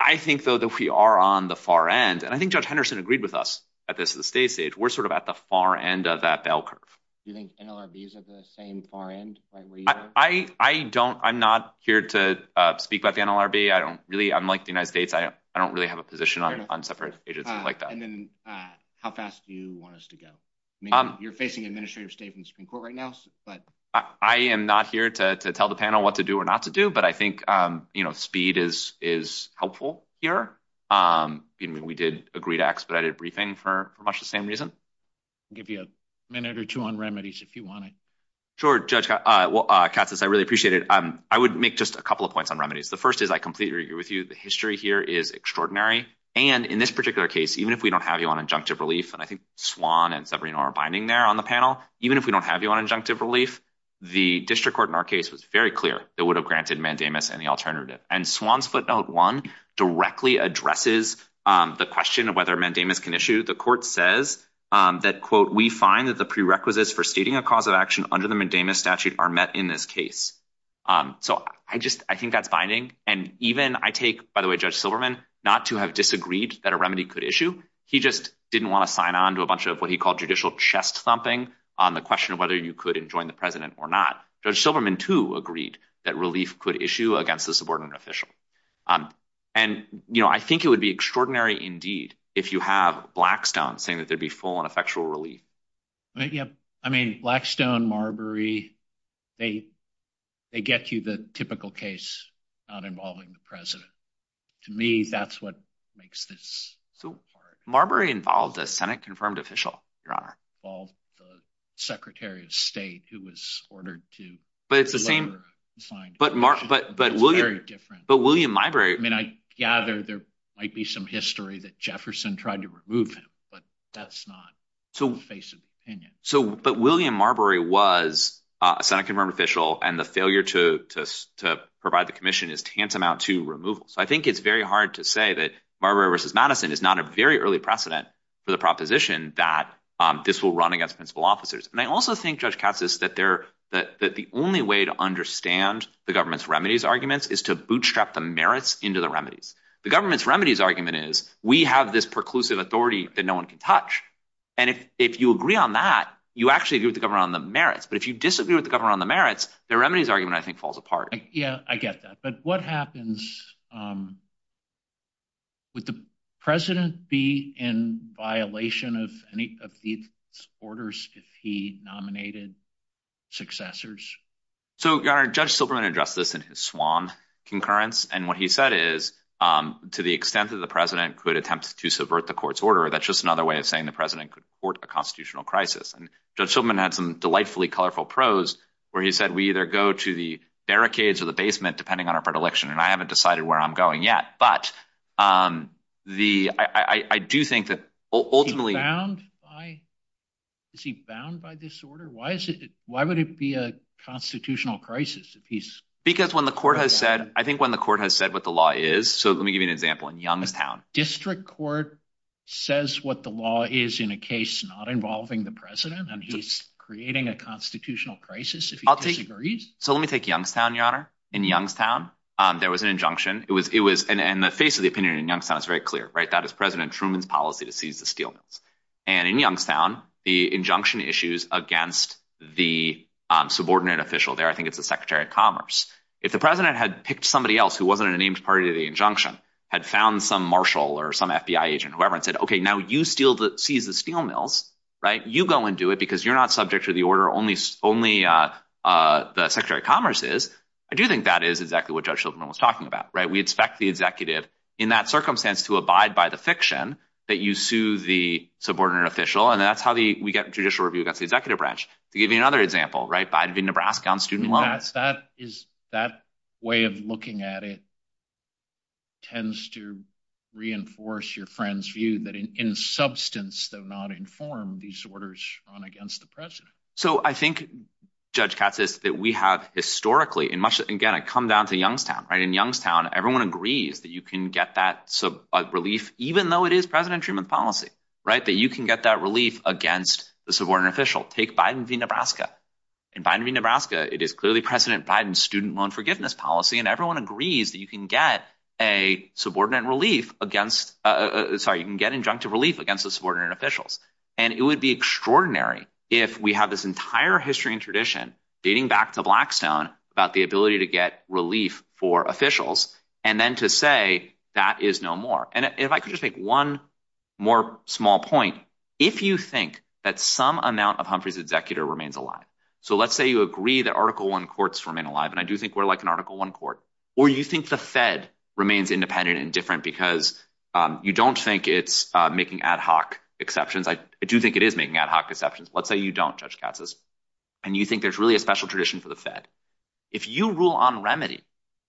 I think though that we are on the far end. And I think Judge Henderson agreed with us at this stage. We're sort of at the far end of that bell curve. Do you think NLRB is at the same far end? I don't, I'm not here to speak about NLRB. I don't really, unlike the United States, I don't really have a position on separate agencies like that. How fast do you want us to go? You're facing administrative statements in court right now. I am not here to tell the panel what to do or not to do, but I think speed is helpful here. We did agree to expedited briefing for much the same reason. Give you a minute or two on remedies if you wanted. Sure, Judge Katsas, I really appreciate it. I would make just a couple of points on remedies. The first is I completely agree with you. The history here is extraordinary. And in this case, even if we don't have you on injunctive relief, and I think Swan and Sabrina are binding there on the panel, even if we don't have you on injunctive relief, the district court in our case was very clear that would have granted mandamus any alternative. And Swan split note one directly addresses the question of whether mandamus can issue. The court says that, quote, we find that the prerequisites for stating a cause of action under the mandamus statute are met in this case. So I just, I think that's binding. And even I take, by the way, Judge Silverman, not to have disagreed that a remedy could issue, he just didn't want to sign on to a bunch of what he called judicial chest thumping on the question of whether you could enjoin the president or not. Judge Silverman, too, agreed that relief could issue against the subordinate official. And, you know, I think it would be extraordinary indeed if you have Blackstone saying that there'd be full and effectual relief. Yeah. I mean, Blackstone, Marbury, they, they get you the typical case, not involving the president. To me, that's what makes this. Marbury involved a Senate confirmed official, your honor. All the secretary of state who was ordered to. But it's the same. But William Marbury. I mean, I gather there might be some history that Jefferson tried to remove him, but that's not to face of opinion. So, but William Marbury was a Senate confirmed official and the failure to, to, to provide the commission is tantamount to removal. So I think it's very hard to say that Marbury versus Madison is not a very early precedent for the proposition that this will run against principal officers. And I also think Judge Katsas that there, that the only way to understand the government's remedies arguments is to bootstrap the merits into the remedies. The government's remedies argument is we have this preclusive authority that no one can touch. And if, if you agree on that, you actually agree with the government on the merits, but if you disagree with the government on the merits, the remedies argument, I think, falls apart. Yeah, I get that. But what happens with the president be in violation of any of these orders if he nominated successors? So Judge Silberman addressed this in his Swan concurrence. And what he said is to the extent that the president could attempt to subvert the court's order, that's just another way of saying the president could court a constitutional crisis. And Judge Silberman had some delightfully colorful prose where he said, we either go to the barricades or the basement, depending on our predilection. And I haven't decided where I'm going yet, but the, I do think that ultimately... Is he bound by, is he bound by this order? Why is it, why would it be a constitutional crisis if he's... Because when the court has said, I think when the court has said what the law is, so let me give you an example in Youngstown. District court says what the law is in a case not involving the president and he's creating a constitutional crisis. So let me take Youngstown, your honor. In Youngstown, there was an injunction. It was, it was in the face of the opinion in Youngstown, it's very clear, right? That is president Truman's policy to seize the steel mills. And in Youngstown, the injunction issues against the subordinate official there, I think it's the secretary of commerce. If the president had picked somebody else who wasn't a named party of the injunction, had found some Marshall or some FBI agent, whoever it said, okay, now you seize the steel mills, right? You go and do it because you're not subject to the order, only the secretary of commerce is. I do think that is exactly what Judge Shultzman was talking about, right? We expect the executive in that circumstance to abide by the fiction that you sue the subordinate official. And that's how we get the judicial review against the executive branch. To give you another example, right? By the way, Nebraska on student loans. That is, that way of looking at it tends to reinforce your friend's view that in substance, though not in form, these orders run against the president. So I think Judge Katz says that we have historically, and again, I come down to Youngstown, right? In Youngstown, everyone agrees that you can get that relief, even though it is president Truman's policy, right? That you can get that relief against the subordinate official. Take Biden v. Nebraska. In Biden v. Nebraska, it is clearly president Biden's student loan forgiveness policy. And everyone agrees that you can get a subordinate relief against, sorry, you can get injunctive relief against the subordinate officials. And it would be extraordinary if we have this entire history and tradition dating back to Blackstone about the ability to get relief for officials, and then to say that is no more. And if I could just make one more small point, if you think that some amount of Humphrey's executor remains alive, so let's say you agree that Article I courts remain alive, and I do think we're like an Article I court, or you think the Fed remains independent and different because you don't think it's making ad hoc exceptions. I do think it is making ad hoc exceptions. Let's say you don't, Judge Katz says, and you think there's really a special tradition for the Fed. If you rule on remedy,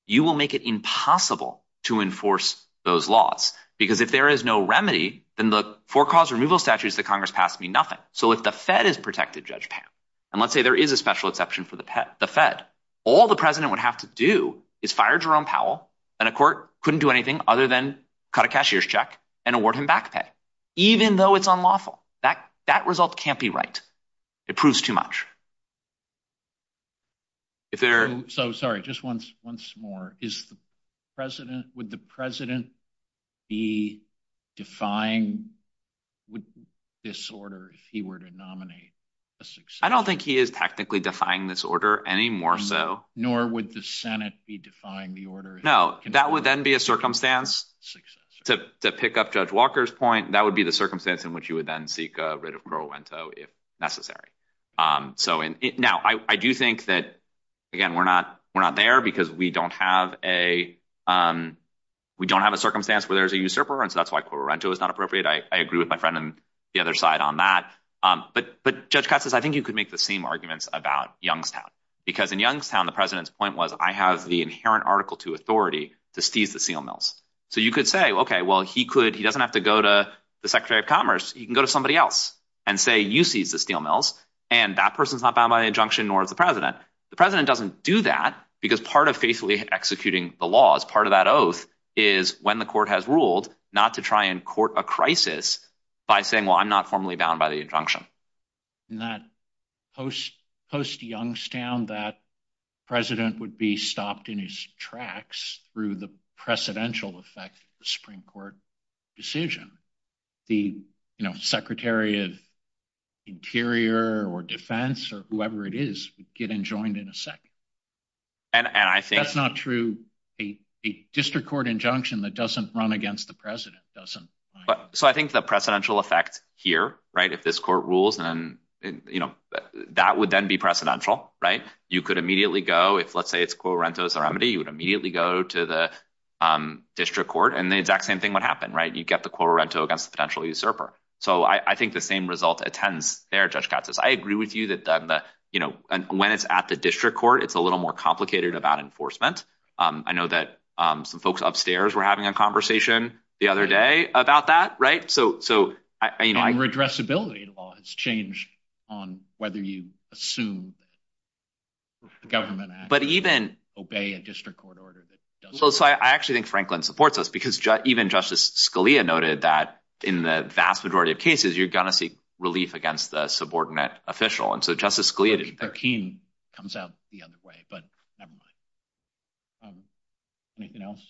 you will make it impossible to enforce those laws. Because if there is no remedy, then the four cause removal statutes that Congress passed would be nothing. So if the Fed is protected, Judge Pat, and let's say there is a special exception for the Fed, all the president would have to do is fire Jerome Powell, and a court couldn't do anything other than cut a cashier's check and award him back pay, even though it's unlawful. That result can't be right. It proves too much. If there- So, sorry, just once more. Would the president be defying this order if he were to nominate a successor? I don't think he is technically defying this order any more so. Nor would the Senate be defying the order. No, that would then be a circumstance, to pick up Judge Walker's point, that would be the circumstance in which you would then seek a writ of pro lento if necessary. So now, I do think that, again, we're not there because we don't have a circumstance where there's a usurper, and so that's why pro lento is not appropriate. I agree with my friend on the other side on that. But Judge Katz, I think you could make the same arguments about Youngstown. Because in Youngstown, the president's point was, I have the inherent article to authority to seize the steel mills. So you could say, okay, well, he doesn't have to go to the Secretary of Commerce. He can go to somebody else and say, you seize the steel mills, and that person's not bound by the injunction, nor is the president. The president doesn't do that because part of basically executing the laws, part of that oath, is when the court has ruled not to try and court a crisis by saying, well, I'm not formally bound by the injunction. In that post-Youngstown, that president would be stopped in his tracks through the precedential effect of the Supreme Court decision. The Secretary of Interior or Defense, or whoever it is, would get enjoined in a second. That's not true. A district court injunction that doesn't run against the president doesn't. So I think the precedential effect here, right, if this court rules, that would then be precedential, right? You could immediately go, if, let's say, it's correntos remedy, you would immediately go to the district court, and the exact same thing would happen, right? You'd get the corrento against the potential usurper. So I think the same result attends there, Judge Katz. I agree with you that when it's at the district court, it's a little more complicated about enforcement. I know that some folks upstairs were having a conversation the other day about that, right? I mean, redressability in law has changed on whether you assume that the government has to obey a district court order that doesn't. So I actually think Franklin supports this, because even Justice Scalia noted that in the vast majority of cases, you're going to seek relief against the subordinate official. And so Justice Scalia did that. 13 comes out the other way, but never mind. Anything else?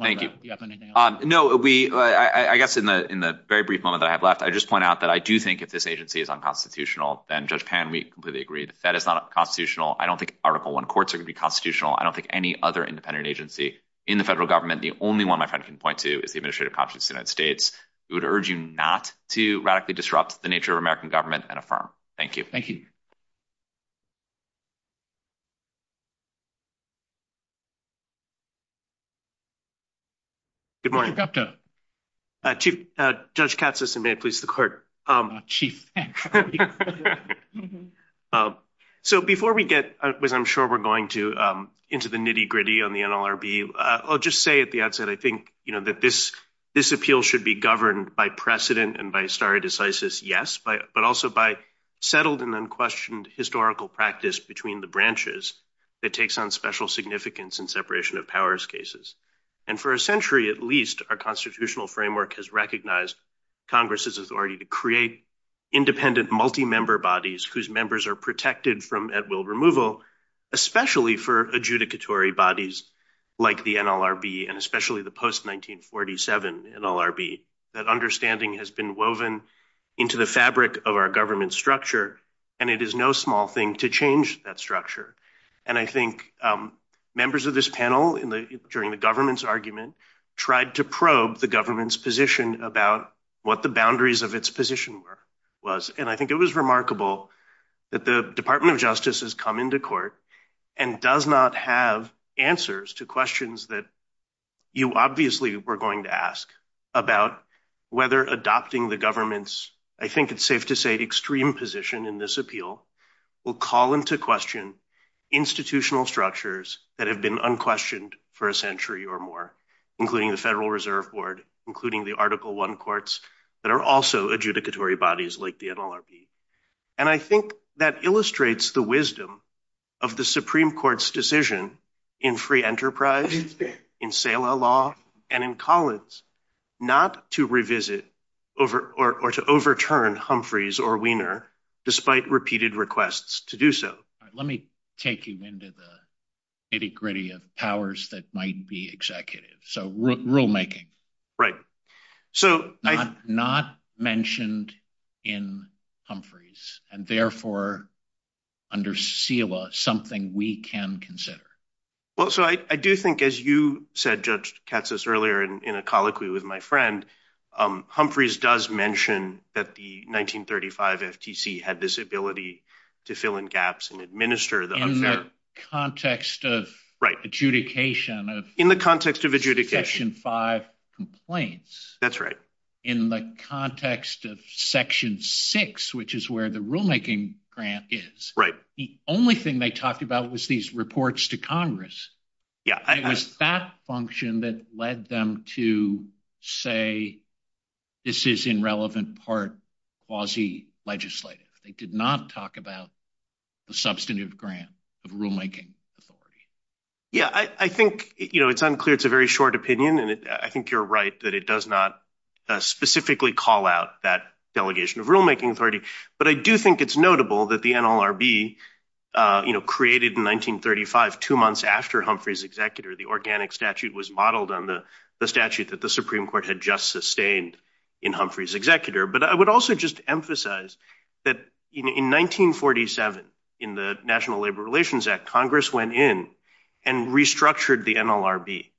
Thank you. Do you have anything else? No. I guess in the very brief moment that I had left, I just point out that I do think if this agency is unconstitutional, then, Judge Pan, we completely agree that that is not constitutional. I don't think Article I courts are going to be constitutional. I don't think any other independent agency in the federal government, the only one my friend can point to is the Administrative Constituency of the United States, would urge you not to radically disrupt the nature of American government and affirm. Thank you. Thank you. Good morning. Judge Katsos, and may it please the court. Chief. So before we get, which I'm sure we're going to, into the nitty gritty on the NLRB, I'll just say at the outset, I think that this appeal should be governed by precedent and by stare decisis, yes, but also by settled and unquestioned historical practice between the that takes on special significance in separation of powers cases. And for a century at least, our constitutional framework has recognized Congress's authority to create independent multi-member bodies whose members are protected from at-will removal, especially for adjudicatory bodies like the NLRB and especially the post-1947 NLRB. That understanding has been woven into the of our government structure and it is no small thing to change that structure. And I think members of this panel during the government's argument tried to probe the government's position about what the boundaries of its position was. And I think it was remarkable that the Department of Justice has come into court and does not have answers to questions that you obviously were going to ask about whether adopting the government's, I think it's safe to say, extreme position in this appeal will call into question institutional structures that have been unquestioned for a century or more, including the Federal Reserve Board, including the Article I courts that are also adjudicatory bodies like the NLRB. And I think that illustrates the wisdom of the Supreme Court's decision in free enterprise, in SELA law, and in Collins, not to revisit or to overturn Humphreys or Wiener despite repeated requests to do so. Let me take you into the nitty-gritty of powers that might be executive. So rulemaking. Right. Not mentioned in Humphreys and therefore under SELA, something we can consider. Well, so I do think as you said, Judge Katsas, earlier in a colloquy with my friend, Humphreys does mention that the 1935 FTC had this ability to fill in gaps and administer the- In the context of adjudication of- In the context of adjudication. Section 5 complaints. That's right. In the context of Section 6, which is where the rulemaking grant is, the only thing they talked about was these reports to Congress. It was that function that led them to say this is in relevant part quasi-legislative. They did not talk about the substantive grant of rulemaking. Yeah. I think it's unclear. It's a very short opinion. And I think you're right that it does not specifically call out that delegation of rulemaking authority. But I do think it's notable that the NLRB created in 1935, two months after Humphreys' executor, the organic statute was modeled on the statute that the Supreme Court had just sustained in Humphreys' executor. But I would also just emphasize that in 1947, in the National Labor Relations Act, Congress went in and restructured the NLRB.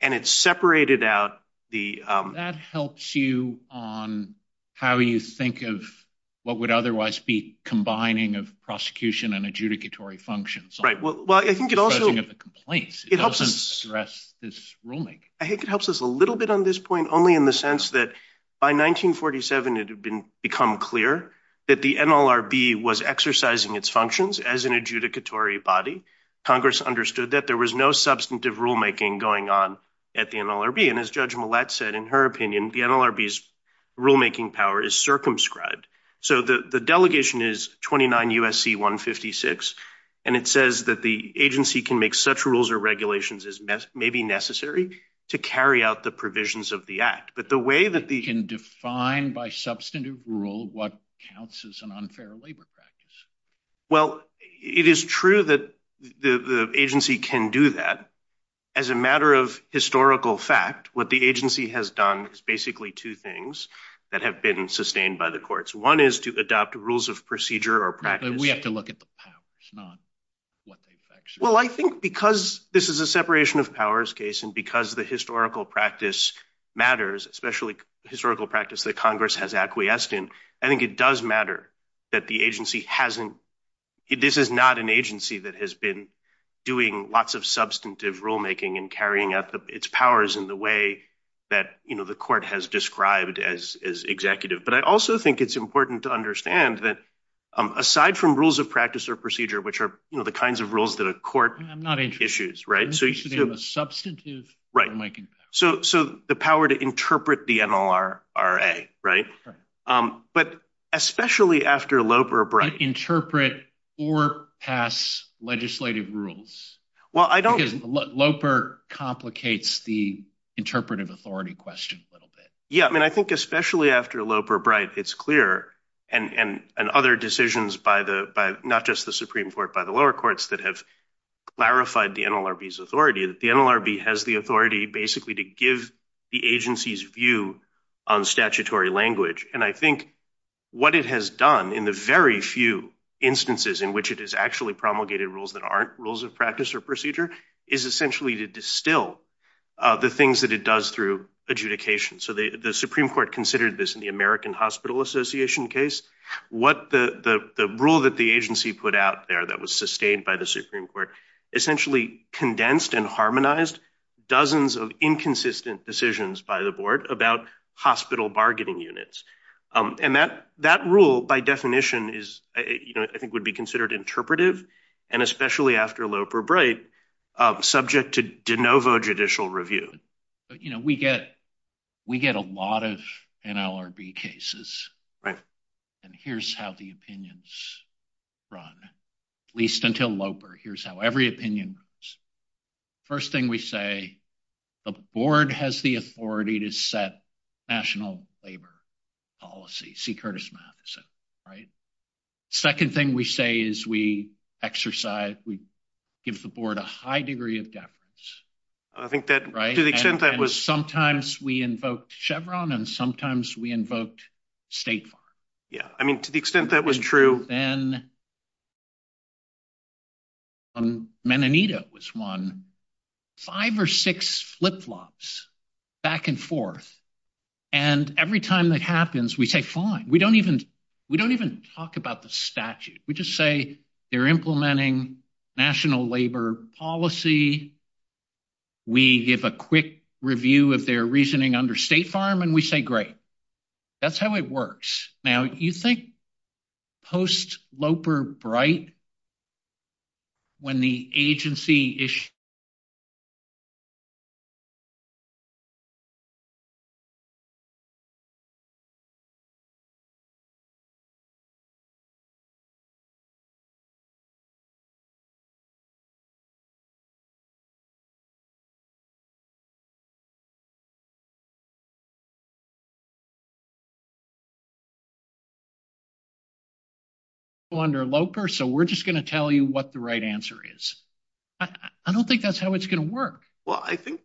And it separated out the- That helps you on how you think of what would otherwise be combining of prosecution and adjudicatory functions. Right. Well, I think it also- In terms of the complaints. It doesn't stress this ruling. I think it helps us a little bit on this point, only in the sense that by 1947, it had become clear that the NLRB was exercising its functions as an adjudicatory body. Congress understood that there was no substantive rulemaking going on at the NLRB. And as Judge Millett said, in her opinion, the NLRB's rulemaking power is circumscribed. So the delegation is 29 U.S.C. 156. And it says that the agency can make such rules or regulations as may be necessary to carry out the provisions of the act. But the way that they can define by substantive rule, what counts as an unfair labor practice? Well, it is true that the agency can do that. As a matter of historical fact, what the agency has done is basically two things that have been sustained by the courts. One is to adopt rules of procedure or practice. We have to look at the powers, not what they've actually- Well, I think because this is a separation of powers case and because the historical practice matters, especially historical practice that Congress has acquiesced in, I think it does have a lot of substantive rulemaking and carrying out its powers in the way that the court has described as executive. But I also think it's important to understand that aside from rules of practice or procedure, which are the kinds of rules that a court issues, right? I'm not interested in the substantive rulemaking power. So the power to interpret the NLRRA, right? But especially after Loeb or Brown- Or pass legislative rules. Well, I don't- Loper complicates the interpretive authority question a little bit. Yeah. I mean, I think especially after Loper, Bright, it's clear and other decisions by not just the Supreme Court, by the lower courts that have clarified the NLRB's authority, that the NLRB has the authority basically to give the agency's view on statutory language. And I think what it has done in the very few instances in which it has actually promulgated rules that aren't rules of practice or procedure is essentially to distill the things that it does through adjudication. So the Supreme Court considered this in the American Hospital Association case. The rule that the agency put out there that was sustained by the Supreme Court essentially condensed and harmonized dozens of inconsistent decisions by the board about hospital bargaining units. And that rule by definition is, I think, would be considered interpretive, and especially after Loper, Bright, subject to de novo judicial review. But we get a lot of NLRB cases, and here's how the opinions run, at least until Loper. Here's every opinion. First thing we say, the board has the authority to set national labor policy, see Curtis Matheson, right? Second thing we say is we exercise, we give the board a high degree of deference, right? And sometimes we invoked Chevron, and sometimes we invoked State Farm. Yeah, I mean, to the extent that was true. Then Meninita was one. Five or six flip-flops back and forth. And every time that happens, we say, fine. We don't even talk about the statute. We just say they're implementing national labor policy. We give a quick review of their reasoning under State Farm, and we say, great. That's how it works. Now, you think post-Loper, Bright, when the agency issued the statute, that's how it's going to work. Well, I think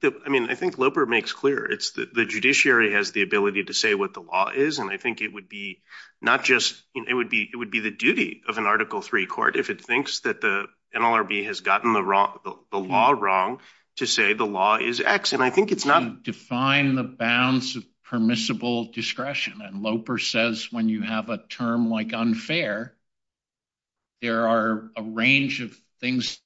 Loper makes clear. The judiciary has the ability to say what the law is, and I think it would be not just, it would be the duty of an Article III court if it thinks that the NLRB has gotten the law wrong to say the law is X. Define the bounds of permissible discretion. And Loper says when you have a term like unfair, there are a range of things.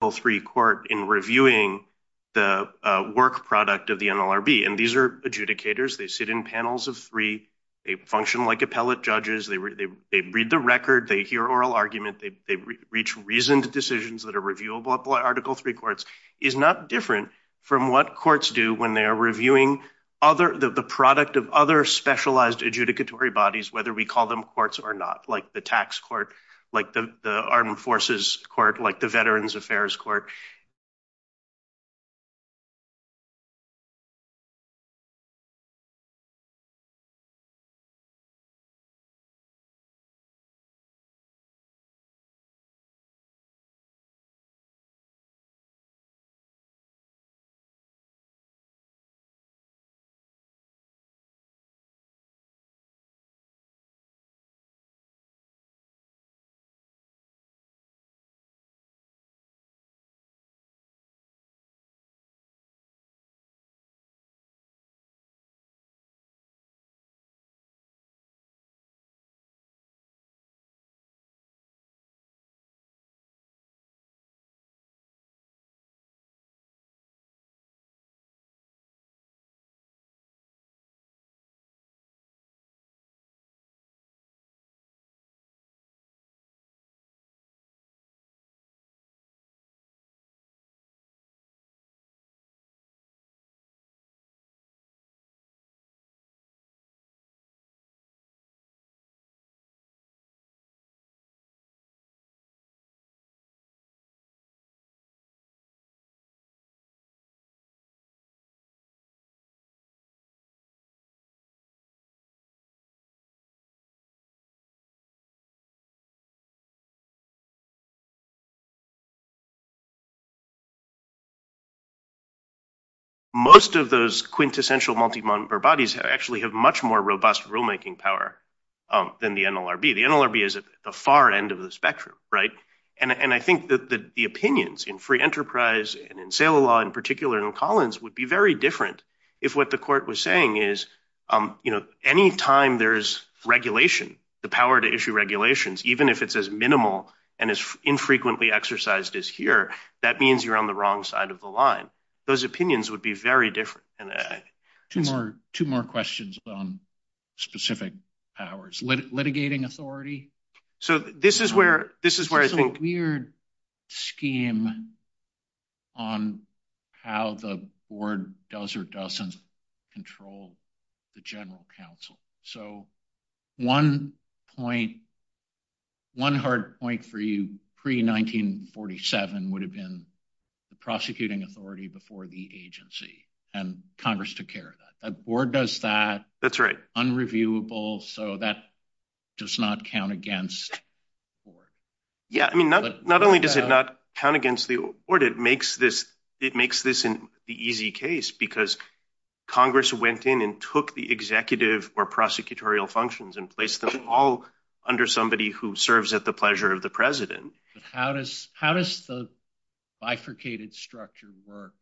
Both three court in reviewing the work product of the NLRB, and these are adjudicators. They in panels of three. They function like appellate judges. They read the record. They hear oral argument. They reach reasoned decisions that are reviewable by Article III courts. It's not different from what courts do when they're reviewing the product of other specialized adjudicatory bodies, whether we call them courts or not, like the tax court, like the Armed Forces court, like the Veterans Affairs court. Robust rulemaking power than the NLRB. The NLRB is at the far end of the spectrum, right? And I think that the opinions in free enterprise and in sale of law, in particular in Collins, would be very different if what the court was saying is, you know, any time there's regulation, the power to issue regulations, even if it's as minimal and as infrequently exercised as here, that means you're on the wrong side of the line. Those opinions would be very different. Two more questions on specific powers. Litigating authority. So this is where I think- There's a weird scheme on how the board does or doesn't control the general counsel. So one hard point for you, pre-1947, would have been the prosecuting authority before the agency. And Congress took care of that. That board does that. That's right. Unreviewable. So that does not count against the board. Yeah. I mean, not only does it not count against the board, it makes this the easy case because Congress went in and took the executive or prosecutorial functions and placed them all under somebody who serves at the pleasure of the president. How does the bifurcated structure work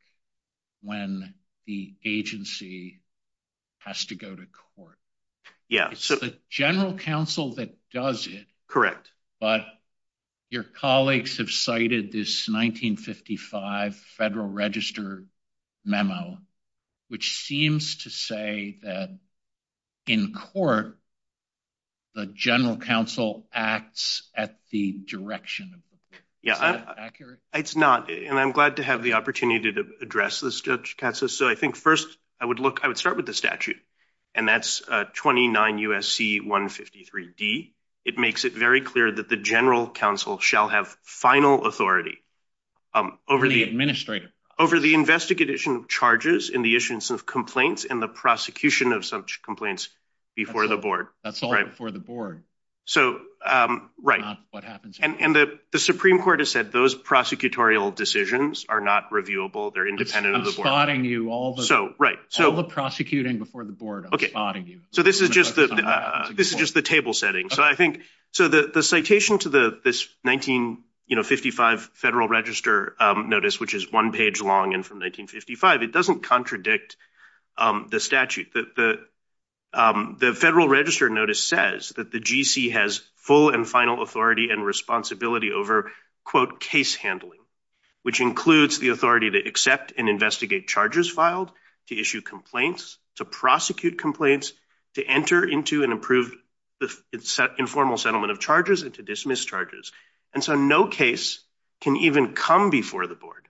when the agency has to go to court? Yeah. So the general counsel that does it- Correct. But your colleagues have cited this 1955 Federal Register memo, which seems to say that in court, the general counsel acts at the direction. Is that accurate? It's not. And I'm glad to have the opportunity to address this, Texas. So I think first, I would start with the statute. And that's 29 USC 153D. It makes it very clear that the general counsel shall have final authority over the- Charges in the issuance of complaints and the prosecution of such complaints before the board. That's all before the board. So, right. Not what happens- And the Supreme Court has said those prosecutorial decisions are not reviewable. They're independent of the board. I'm spotting you. All the prosecuting before the board, I'm spotting you. So this is just the table setting. So the citation to this 1955 Federal Register notice, which is one page long and from 1955, it doesn't contradict the statute. The Federal Register notice says that the GC has full and final authority and responsibility over, quote, case handling, which includes the authority to accept and investigate charges filed, to issue complaints, to prosecute complaints, to enter into and approve the informal settlement of charges and to dismiss charges. And so no case can even come before the board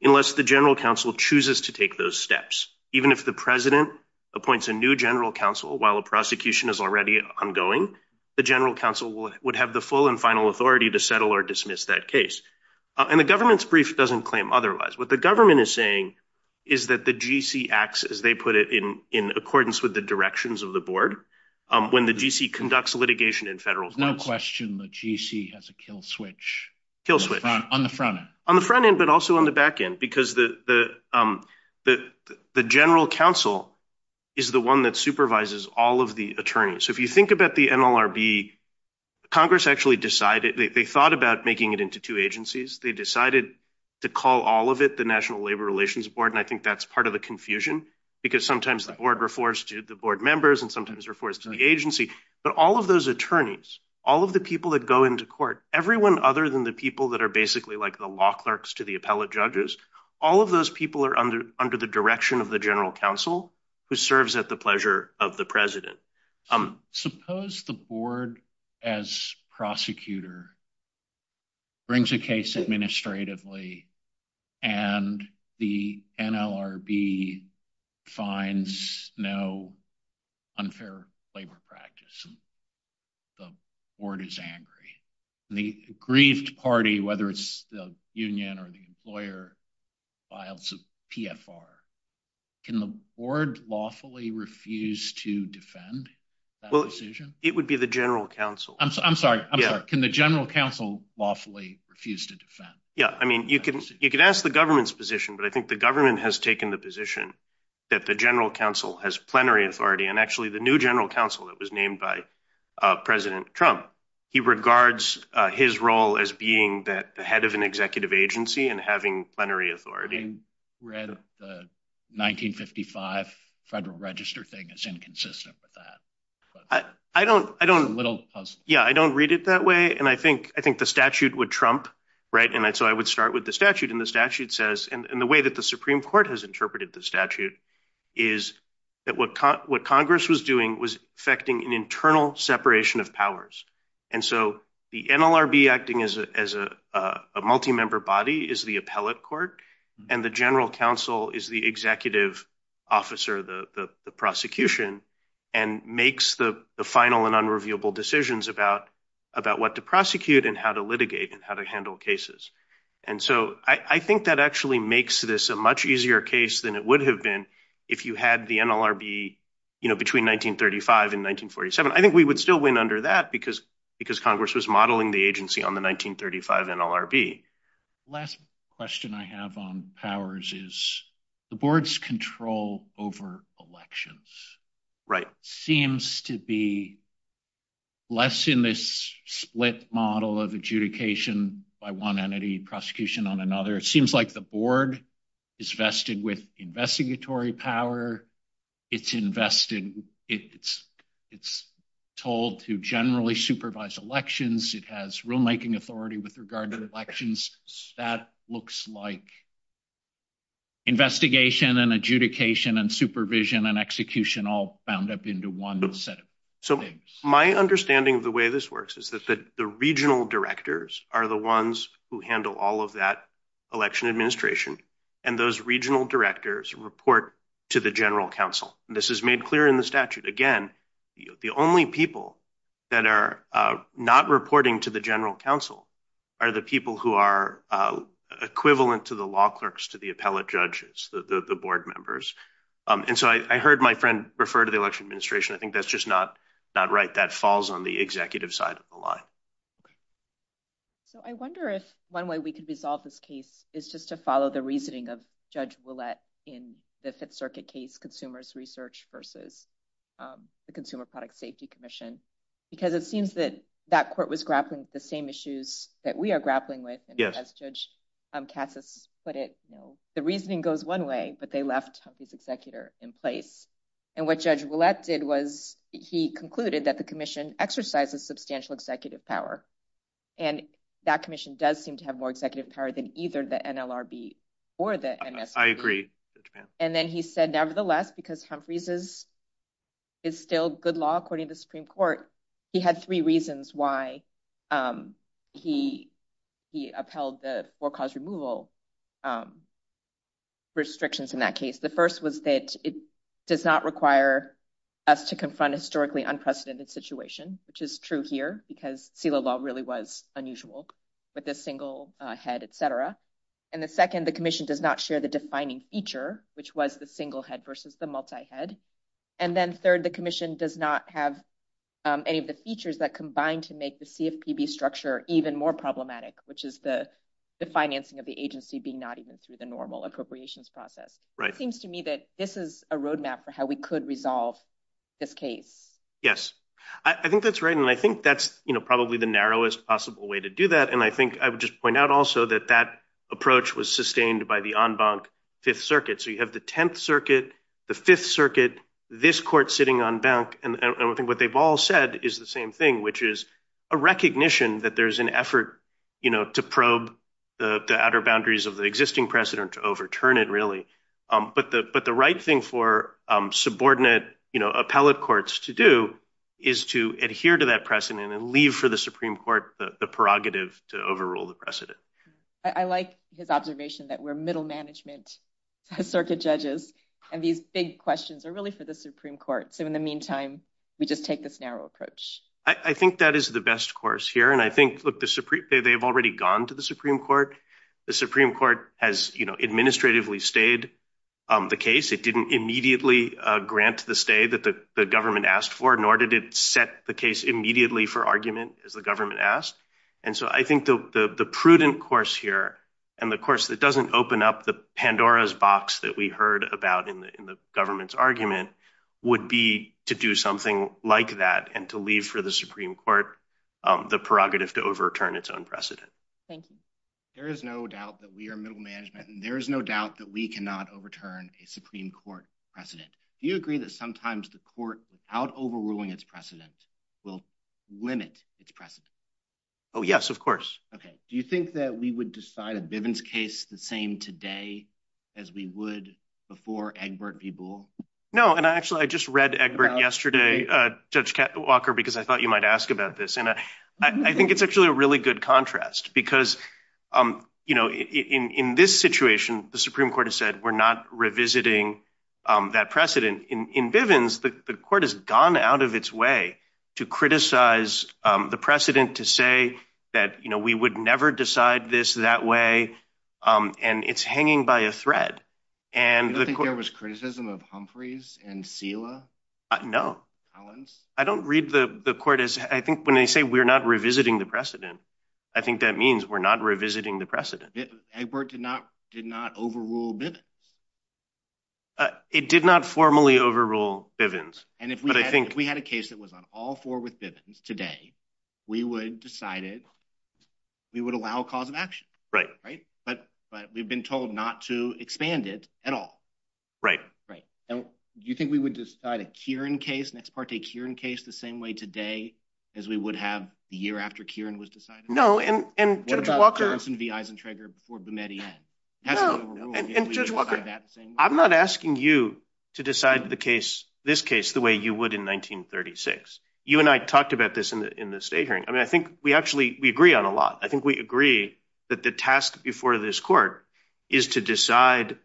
unless the general counsel chooses to take those steps. Even if the president appoints a new general counsel, while a prosecution is already ongoing, the general counsel would have the full and final authority to settle or dismiss that case. And the government's brief doesn't claim otherwise. What the government is saying is that the GC acts as they put it in accordance with the of the board when the GC conducts litigation in federal courts. There's no question the GC has a kill switch. Kill switch. On the front end. On the front end, but also on the back end, because the general counsel is the one that supervises all of the attorneys. So if you think about the NLRB, Congress actually decided, they thought about making it into two agencies. They decided to call all of it the National Labor Relations Board. And I think that's part of the confusion because sometimes the board members and sometimes we're forced to the agency, but all of those attorneys, all of the people that go into court, everyone other than the people that are basically like the law clerks to the appellate judges, all of those people are under the direction of the general counsel who serves at the pleasure of the president. Suppose the board as prosecutor brings a case administratively and the NLRB finds no unfair labor practice and the board is angry and the aggrieved party, whether it's the union or the employer, files a PFR. Can the board lawfully refuse to defend that decision? It would be the general counsel. I'm sorry. Can the general counsel lawfully refuse to defend? Yeah. I mean, you can ask the government's position, but I think the government has taken the position that the general counsel has plenary authority. And actually the new general counsel that was named by President Trump, he regards his role as being that the head of an executive agency and having plenary authority. I read the 1955 Federal Register thing is inconsistent with that. Yeah. I don't read it that way. And I think the statute would trump, right? And so I would with the statute and the statute says, and the way that the Supreme Court has interpreted the statute is that what Congress was doing was affecting an internal separation of powers. And so the NLRB acting as a multi-member body is the appellate court and the general counsel is the executive officer, the prosecution, and makes the final and unreviewable decisions about what to prosecute and how to litigate and how to handle cases. And so I think that actually makes this a much easier case than it would have been if you had the NLRB between 1935 and 1947. I think we would still win under that because Congress was modeling the agency on the 1935 NLRB. Last question I have on powers is the board's control over elections. Right. Seems to be less in this split model of adjudication by one entity, prosecution on another. It seems like the board is vested with investigatory power. It's invested. It's told to generally supervise elections. It has rulemaking authority with regard to elections. That looks like investigation and adjudication and supervision and execution all bound up into one set of things. So my understanding of the way this works is that the regional directors are the ones who handle all of that election administration. And those regional directors report to the general counsel. This is made clear in the statute. Again, the only people that are not reporting to the general counsel are the people who are equivalent to the law clerks, to the appellate judges, the board members. And so I heard my friend refer to the election administration. I think that's just not right. That falls on the executive side of the line. So I wonder if one way we could resolve this case is just to follow the reasoning of Judge Ouellette in the Fifth Circuit case consumers research versus the Consumer Product Safety Commission, because it seems that that court was grappling with the same issues that we are grappling with. And as Judge Cassis put it, the reasoning goes one way, but they left Humphrey's executor in place. And what Judge Ouellette did was he concluded that the commission exercises substantial executive power. And that commission does seem to have more executive power than either the NLRB or the NSC. I agree. And then he said, nevertheless, because Humphrey's is still good law, according to the Supreme Court, he had three reasons why he upheld the forecast removal restrictions in that case. The first was that it does not require us to confront a historically unprecedented situation, which is true here, because CELA law really was unusual with a single head, et cetera. And the second, the commission does not share the defining feature, which was the single head versus the multi-head. And then third, the commission does not have any of the features that combine to make the CFPB structure even more problematic, which is the financing of the agency being not even through the normal appropriations process. Right. It seems to me that this is a roadmap for how we could resolve this case. Yes. I think that's right. And I think that's probably the narrowest possible way to do that. And I think I would just point out also that that approach was sustained by the en banc Fifth Circuit. So you have the Tenth Circuit, the Fifth Circuit, this court sitting en banc, and I don't think what they've all said is the same thing, which is a recognition that there's an effort to probe the outer boundaries of the existing precedent to overturn it, really. But the right thing for subordinate appellate courts to do is to adhere to that precedent and leave for the Supreme Court the prerogative to overrule the precedent. I like his observation that we're middle management circuit judges, and these big questions are really for the Supreme Court. So in the meantime, we just take this narrow approach. I think that is the best course here. And I think, look, they've already gone to the Supreme Court. The Supreme Court has administratively stayed the case. It didn't immediately grant the stay that the government asked for, nor did it set the case immediately for argument as the government asked. And so I think the prudent course here and the course that doesn't open up the Pandora's box that we heard about in the government's argument would be to do something like that and to leave for the Supreme Court the prerogative to overturn its own precedent. Thank you. There is no doubt that we are middle management, and there is no doubt that we cannot overturn a Supreme Court precedent. Do you agree that sometimes the court, without overruling its precedent, will limit its precedent? Oh, yes, of course. Okay. Do you think that we would decide a Bivens case the same today as we would before Egbert v. Boole? No. And actually, I just read Egbert yesterday, Judge Walker, because I thought you might ask about this. And I think it's actually a really good contrast, because in this situation, the Supreme Court has said we're not revisiting that precedent. In Bivens, the court has gone out of its way to criticize the precedent to say that we would never decide this that way, and it's hanging by a thread. Do you think there was criticism of Humphreys and Sela? No. I don't read the court as... I think when they say we're not revisiting the precedent, I think that means we're not revisiting the precedent. Egbert did not overrule Bivens. It did not formally overrule Bivens. And if we had a case that was on all four with Bivens today, we would have decided we would allow a cause of action. Right. Right? But we've been told not to expand it at all. Right. Right. Do you think we would decide a Kieran case, an Ex parte Kieran case, the same way today as we would have the year after Kieran was decided? No, and Judge Walker... And not Harrison v. Eisentrager before Bometti. No, and Judge Walker, I'm not asking you to decide this case the way you would in 1936. You and I talked about this in the state hearing. I mean, I think we actually, we agree on a lot. I think we agree that the task before this court is to decide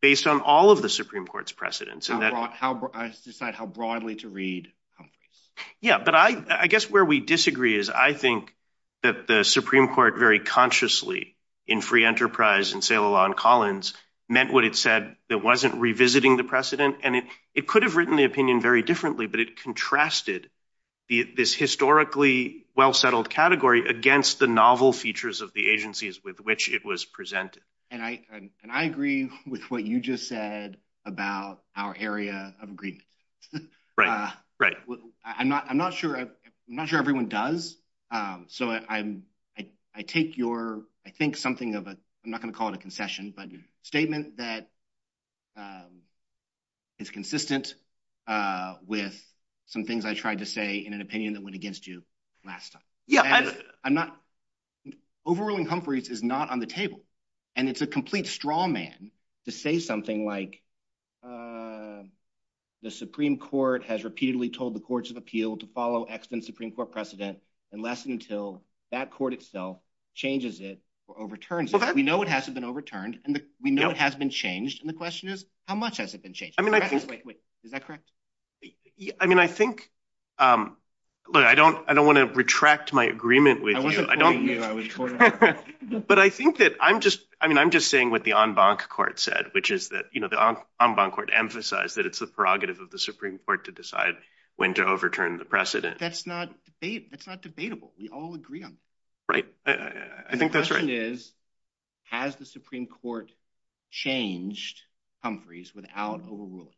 based on all of the Supreme Court's precedents and that... How broad, how... I just decide how broadly to read Humphreys. Yeah, but I guess where we disagree is I think that the Supreme Court very consciously, in Free Enterprise and Ceylon Collins, meant what it said that wasn't revisiting the precedent. And it could have written the opinion very differently, but it contrasted this historically well-settled category against the novel features of the agencies with which it was presented. And I agree with what you just said about our area of agreement. I'm not sure everyone does, so I take your, I think something of a, I'm not going to call it a concession, but a statement that is consistent with some things I tried to say in an opinion that went against you last time. Overruling Humphreys is not on the table, and it's a complete straw man to say something like, uh, the Supreme Court has repeatedly told the courts of appeal to follow excellent Supreme Court precedent unless and until that court itself changes it or overturns it. We know it hasn't been overturned, and we know it has been changed, and the question is, how much has it been changed? Wait, wait, is that correct? I mean, I think, look, I don't want to retract my agreement with you. I wasn't quoting you, I was quoting... But I think that I'm just, I mean, I'm just saying what the en banc court said, which is that, you know, the en banc court emphasized that it's the prerogative of the Supreme Court to decide when to overturn the precedent. That's not debatable. We all agree on that. Right. I think that's right. The question is, has the Supreme Court changed Humphreys without overruling him?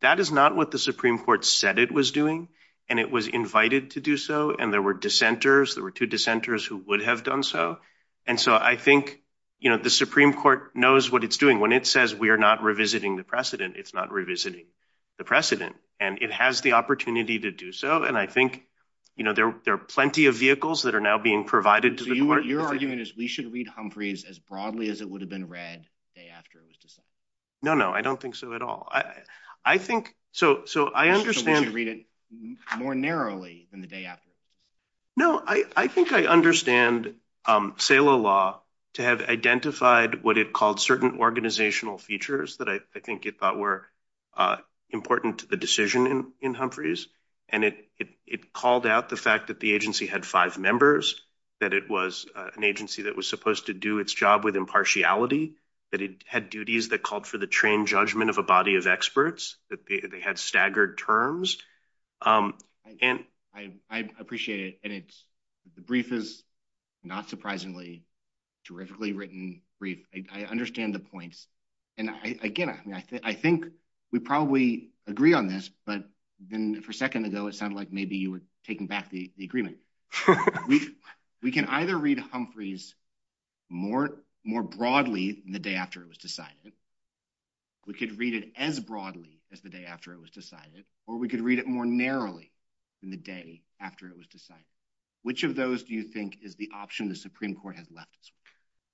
That is not what the Supreme Court said it was doing, and it was invited to do so, and there were dissenters, there were two dissenters who would have done so, and so I think, you know, the Supreme Court knows what it's doing. When it says we are not revisiting the precedent, it's not revisiting the precedent, and it has the opportunity to do so, and I think, you know, there are plenty of vehicles that are now being provided to the court. Your argument is we should read Humphreys as broadly as it would have been read the day after it was decided? No, no, I don't think so at all. I think, so I understand... We should read it more narrowly than the day after. No, I think I understand SALA law to have identified what it called certain organizational features that I think it thought were important to the decision in Humphreys, and it called out the fact that the agency had five members, that it was an agency that was supposed to do its job with impartiality, that it had duties that called for the trained judgment of a body of experts, that they had staggered terms, and... I appreciate it, and the brief is not surprisingly a terrifically written brief. I understand the points, and I get it. I mean, I think we probably agree on this, but then for a second ago, it sounded like maybe you were taking back the agreement. We can either read Humphreys more broadly than the day after it was decided. We could read it as broadly as the day after it was decided, or we could read it more narrowly than the day after it was decided. Which of those do you think is the option the Supreme Court has left?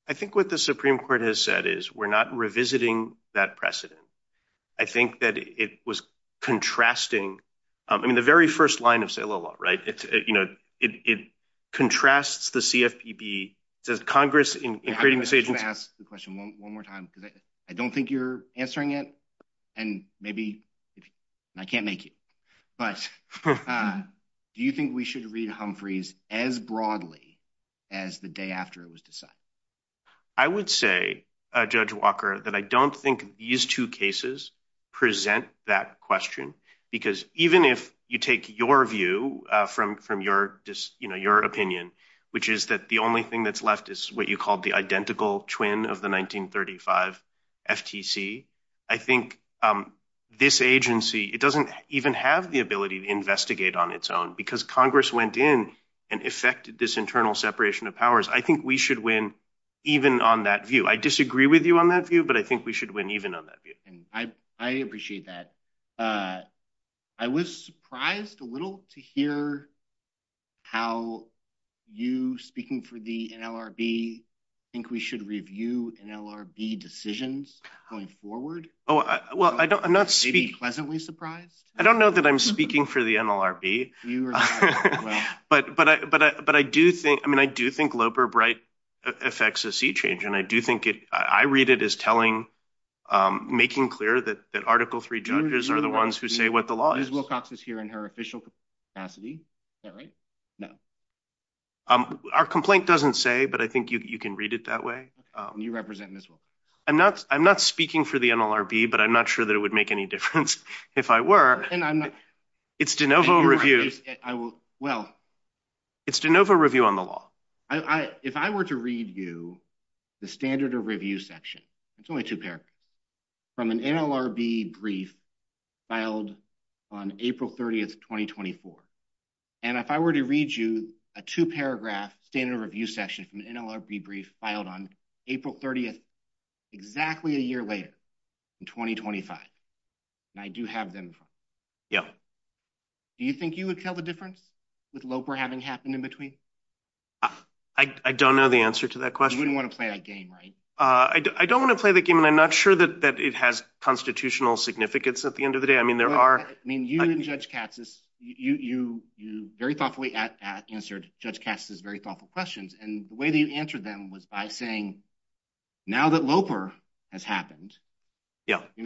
I think what the Supreme Court has said is we're not revisiting that precedent. I think that it was contrasting... I mean, the very first line of SALA law, right? It contrasts the CFPB. Does Congress in creating this agency... I'm going to ask the question one more time, I don't think you're answering it, and maybe I can't make it, but do you think we should read Humphreys as broadly as the day after it was decided? I would say, Judge Walker, that I don't think these two cases present that question, because even if you take your view from your opinion, which is that the only thing that's what you call the identical twin of the 1935 FTC, I think this agency, it doesn't even have the ability to investigate on its own, because Congress went in and effected this internal separation of powers. I think we should win even on that view. I disagree with you on that view, but I think we should win even on that view. I appreciate that. I was surprised a little to hear how you, speaking for the NLRB, think we should review NLRB decisions going forward. Oh, well, I don't... Are you pleasantly surprised? I don't know that I'm speaking for the NLRB, but I do think Loper Bright effects a sea change, and I do think it... I read it as telling, making clear that article are the ones who say what the law is. Ms. Wilcox is here in her official capacity. Is that right? No. Our complaint doesn't say, but I think you can read it that way. You represent Ms. Wilcox. I'm not speaking for the NLRB, but I'm not sure that it would make any difference if I were. It's de novo review. It's de novo review on the law. If I were to read you the standard of review section, it's only two paragraphs, from an NLRB brief filed on April 30th, 2024, and if I were to read you a two-paragraph standard of review section from an NLRB brief filed on April 30th, exactly a year later, in 2025, and I do have them... Yeah. Do you think you would tell the difference with Loper having happened in between? I don't know the answer to that question. You wouldn't want to play that game, right? I don't want to play the game, and I'm not sure that it has constitutional significance at the end of the day. I mean, there are... I mean, you and Judge Katz, you very thoughtfully answered Judge Katz's very thoughtful questions, and the way that you answered them was by saying, now that Loper has happened,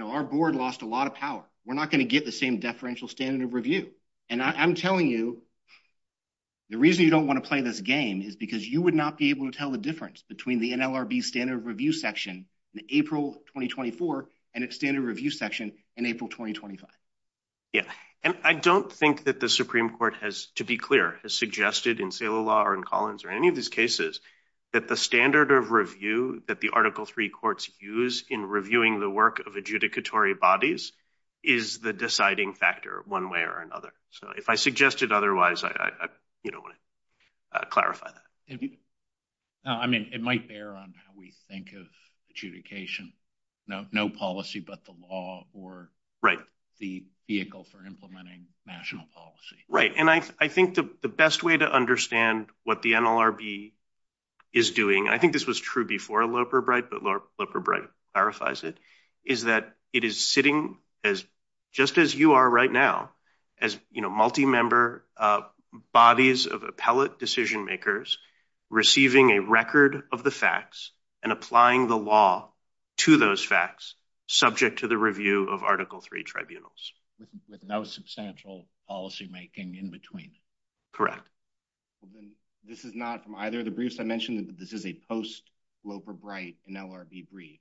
our board lost a lot of power. We're not going to get the same deferential standard of review, and I'm telling you, the reason you don't want to play this game is because you would not be able to tell the difference between the NLRB standard of review section in April 2024, and its standard review section in April 2025. Yeah, and I don't think that the Supreme Court has, to be clear, has suggested in Saylor Law or in Collins or any of his cases that the standard of review that the Article III courts use in reviewing the work of adjudicatory bodies is the deciding factor one way or another. So, if I suggested otherwise, I don't want to clarify that. No, I mean, it might bear on how we think of adjudication. No policy, but the law or the vehicle for implementing national policy. Right, and I think the best way to understand what the NLRB is doing, and I think this was true before Loper Bright, but Loper Bright clarifies it, is that it is sitting just as you are right now as multi-member bodies of appellate decision makers receiving a record of the facts and applying the law to those facts subject to the review of Article III tribunals. With no substantial policymaking in between. Correct. This is not from either of the briefs I mentioned, but this is a post-Loper Bright NLRB brief.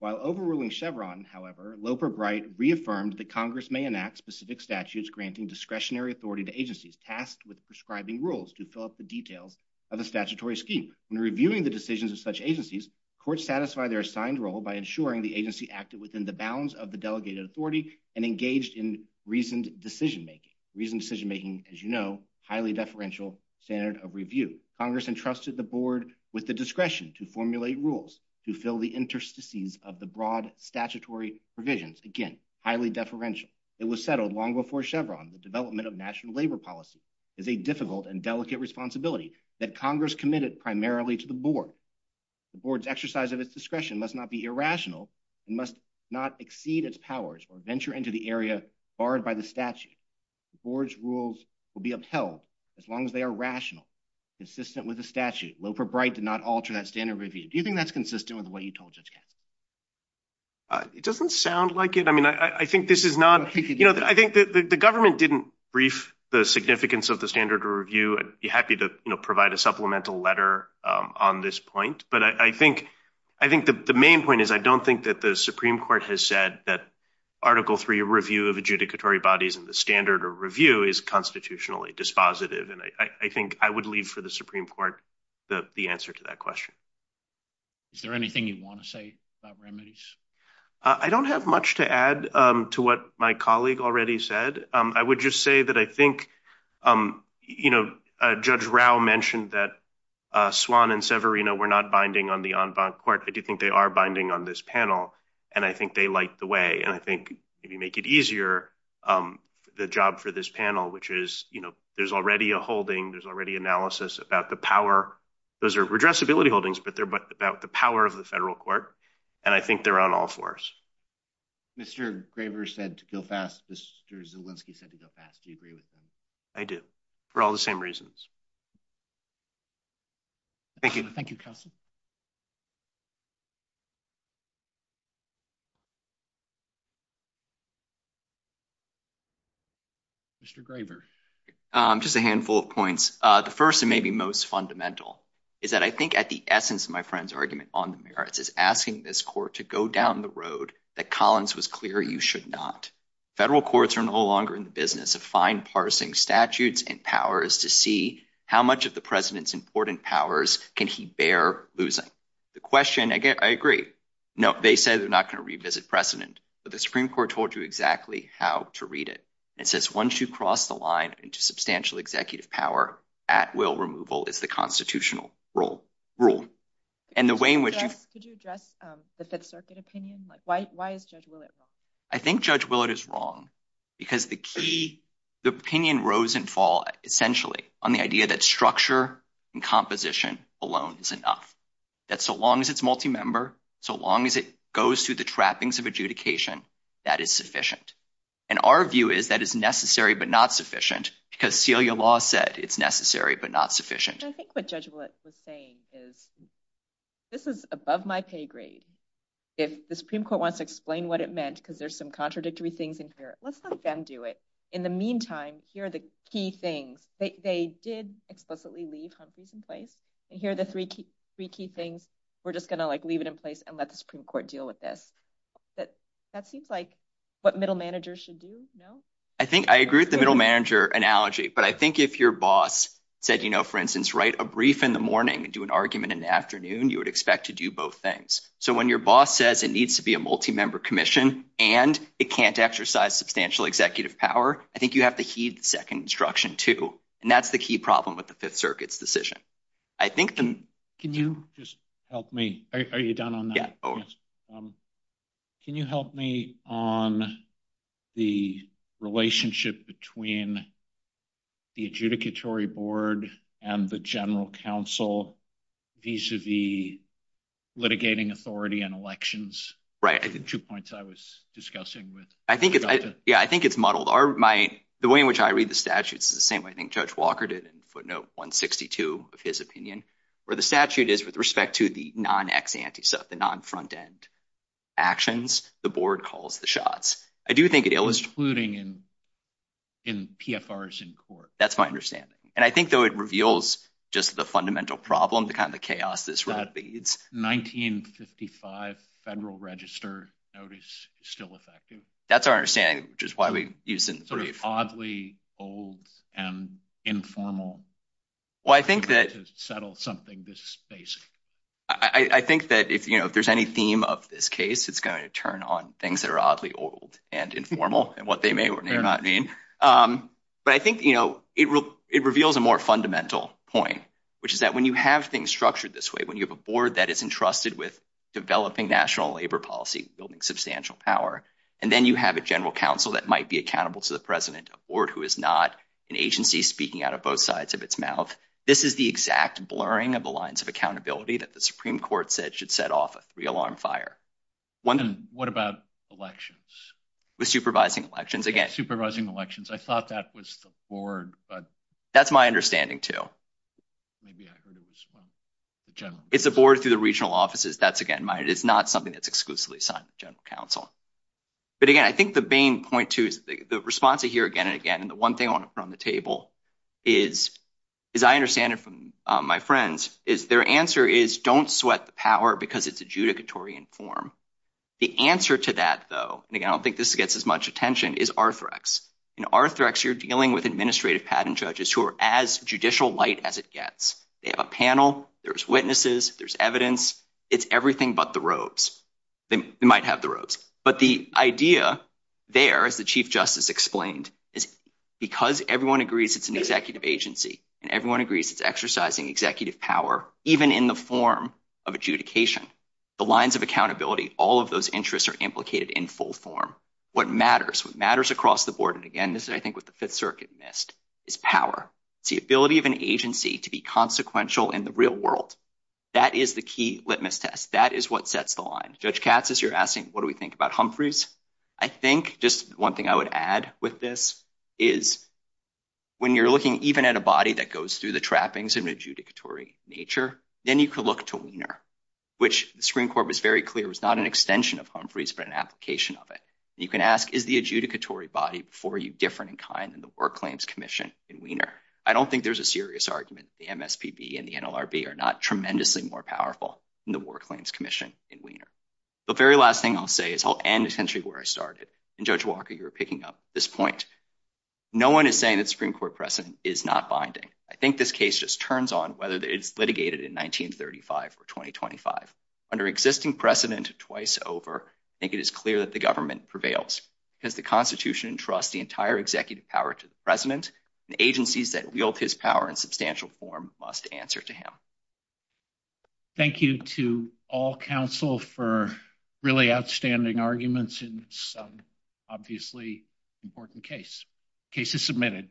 While overruling Chevron, however, Loper Bright reaffirmed that Congress may enact specific statutes granting discretionary authority to agencies tasked with prescribing rules to fill up the details of the statutory scheme. When reviewing the decisions of such agencies, courts satisfy their assigned role by ensuring the agency acted within the bounds of the delegated authority and engaged in reasoned decision making. Reasoned decision making, as you know, highly deferential standard of review. Congress entrusted the board with the discretion to formulate rules to fill the interstices of the broad statutory provisions. Again, highly deferential. It was settled long before Chevron, the development of national labor policy is a difficult and delicate responsibility that Congress committed primarily to the board. The board's exercise of its discretion must not be irrational and must not exceed its powers or venture into the area barred by the statute. The board's rules will be upheld as long as they are consistent with the statute. Loper Bright did not alter that standard review. Do you think that's consistent with what he told you? It doesn't sound like it. I mean, I think this is not, you know, I think that the government didn't brief the significance of the standard of review. I'd be happy to provide a supplemental letter on this point. But I think the main point is, I don't think that the Supreme Court has said that Article III review of adjudicatory bodies and the standard of review is constitutionally dispositive. And I think I would leave for the Supreme Court the answer to that question. Is there anything you want to say about remedies? I don't have much to add to what my colleague already said. I would just say that I think, you know, Judge Rao mentioned that Swan and Severino were not binding on the en banc court. I do think they are binding on this panel. And I think they like the way and I think if you make it easier, the job for this panel, which is, you know, there's already a holding, there's already analysis about the power, those are redressability holdings, but they're about the power of the federal court. And I think they're on all fours. Mr. Graber said to go fast. Mr. Zielinski said to go fast. Do you agree with him? I do. For all the same reasons. Thank you. Thank you, counsel. Mr. Graber. Just a handful of points. The first and maybe most fundamental is that I think at the essence of my friend's argument on the merits is asking this court to go down the road that Collins was clear you should not. Federal courts are no longer in the business of fine parsing statutes and powers to see how much of the president's important powers can he bear losing. The question, again, I agree. No, they said they're not going to revisit precedent, but the Supreme Court told you exactly how to read it. It says once you cross the line into substantial executive power at will removal, it's the constitutional rule. And the way in which- Could you address the sub-circuit opinion? Why is Judge Willett wrong? I think Judge Willett is wrong because the key, the opinion rose and fall essentially on the idea that structure and composition alone is enough. That so long as it's multi-member, so long as it goes through the trappings of adjudication, that it's sufficient. And our view is that it's necessary but not sufficient because Celia Law said it's necessary but not sufficient. I think what Judge Willett was saying is this is above my pay grade. If the Supreme Court wants to explain what it meant because there's some contradictory things in here, let's let them do it. In the meantime, here are the key things. They did explicitly leave Humphrey's in place, and here are the three key things. We're just going to leave it in place and let the Supreme Court deal with this. That seems like what middle managers should do, no? I think I agree with the middle manager analogy, but I think if your boss said, for instance, write a brief in the morning and do an argument in the afternoon, you would expect to do both things. So when your boss says it needs to be a multi-member commission and it can't exercise substantial executive power, I think you have to heed the second instruction too. And that's the key problem with the Fifth Circuit's decision. I think the- Can you just help me? Are you done on that? Can you help me on the relationship between the adjudicatory board and the general counsel vis-a-vis litigating authority and elections? Two points I was discussing with- I think it's modeled. The way in which I read the statutes is the same way I think Judge Walker did in footnote 162 of his opinion, where the statute is with respect to the non-ex ante, so the non-front end actions, the board calls the shots. I do think it illustrates- Including in PFRs in court. That's my understanding. And I think though it reveals just the fundamental problem, the kind of chaos this really leads. 1955 Federal Register notice is still effective. That's our understanding, which is why we used it in the brief. Oddly old and informal. Well, I think that- To settle something this basic. I think that if there's any theme of this case, it's going to turn on things that are oddly old and informal and what they may or may not mean. But I think it reveals a more fundamental point, which is that when you have things structured this way, when you have a board that is entrusted with developing national labor policy, building substantial power, and then you have a general counsel that might be accountable to the president, a board who is not an agency speaking out of both sides of its mouth, this is the exact blurring of the lines of accountability that the Supreme Court said should set off a three-alarm fire. And what about elections? With supervising elections, again- Supervising elections. I thought that was the board, but- That's my understanding too. Maybe I heard it as one of the generals. It's a board through the regional offices. That's again, it is not something that's exclusively assigned to general counsel. But again, I think the main point too, the response I hear again and again, and the one thing I want to throw on the table is, as I understand it from my friends, is their answer is don't sweat the power because it's adjudicatory in form. The answer to that though, and again, I don't think this gets as much attention, is Arthrex. In Arthrex, you're dealing with administrative patent judges who are as judicial-lite as it gets. They have a panel. There's witnesses. There's evidence. It's everything but the roads. They might have the roads. But the idea there, as the Chief Justice explained, is because everyone agrees it's an executive agency, and everyone agrees it's exercising executive power, even in the form of adjudication, the lines of accountability, all of those interests are implicated in full form. What matters, what matters across the board, and again, this is I think what the Fifth Circuit missed, is power. It's the ability of an agency to be consequential in the real world. That is the key litmus test. That is what sets the line. Judge Katz, as you're asking, what do we think about Humphreys? I think just one thing I would add with this is when you're looking even at a body that goes through the trappings and adjudicatory nature, then you could look to Wiener, which the Supreme Court was very clear was not an extension of Humphreys, but an application of it. You can ask, is the adjudicatory body for you different in kind than the War Claims Commission in Wiener? I don't think there's a serious argument that the MSPB and the War Claims Commission in Wiener. The very last thing I'll say is I'll end essentially where I started, and Judge Walker, you were picking up this point. No one is saying that the Supreme Court precedent is not binding. I think this case just turns on whether it's litigated in 1935 or 2025. Under existing precedent twice over, I think it is clear that the government prevails because the Constitution entrusts the entire executive power to the president, and agencies that wield his power in substantial form must answer to him. Thank you to all counsel for really outstanding arguments in this obviously important case. Case is submitted.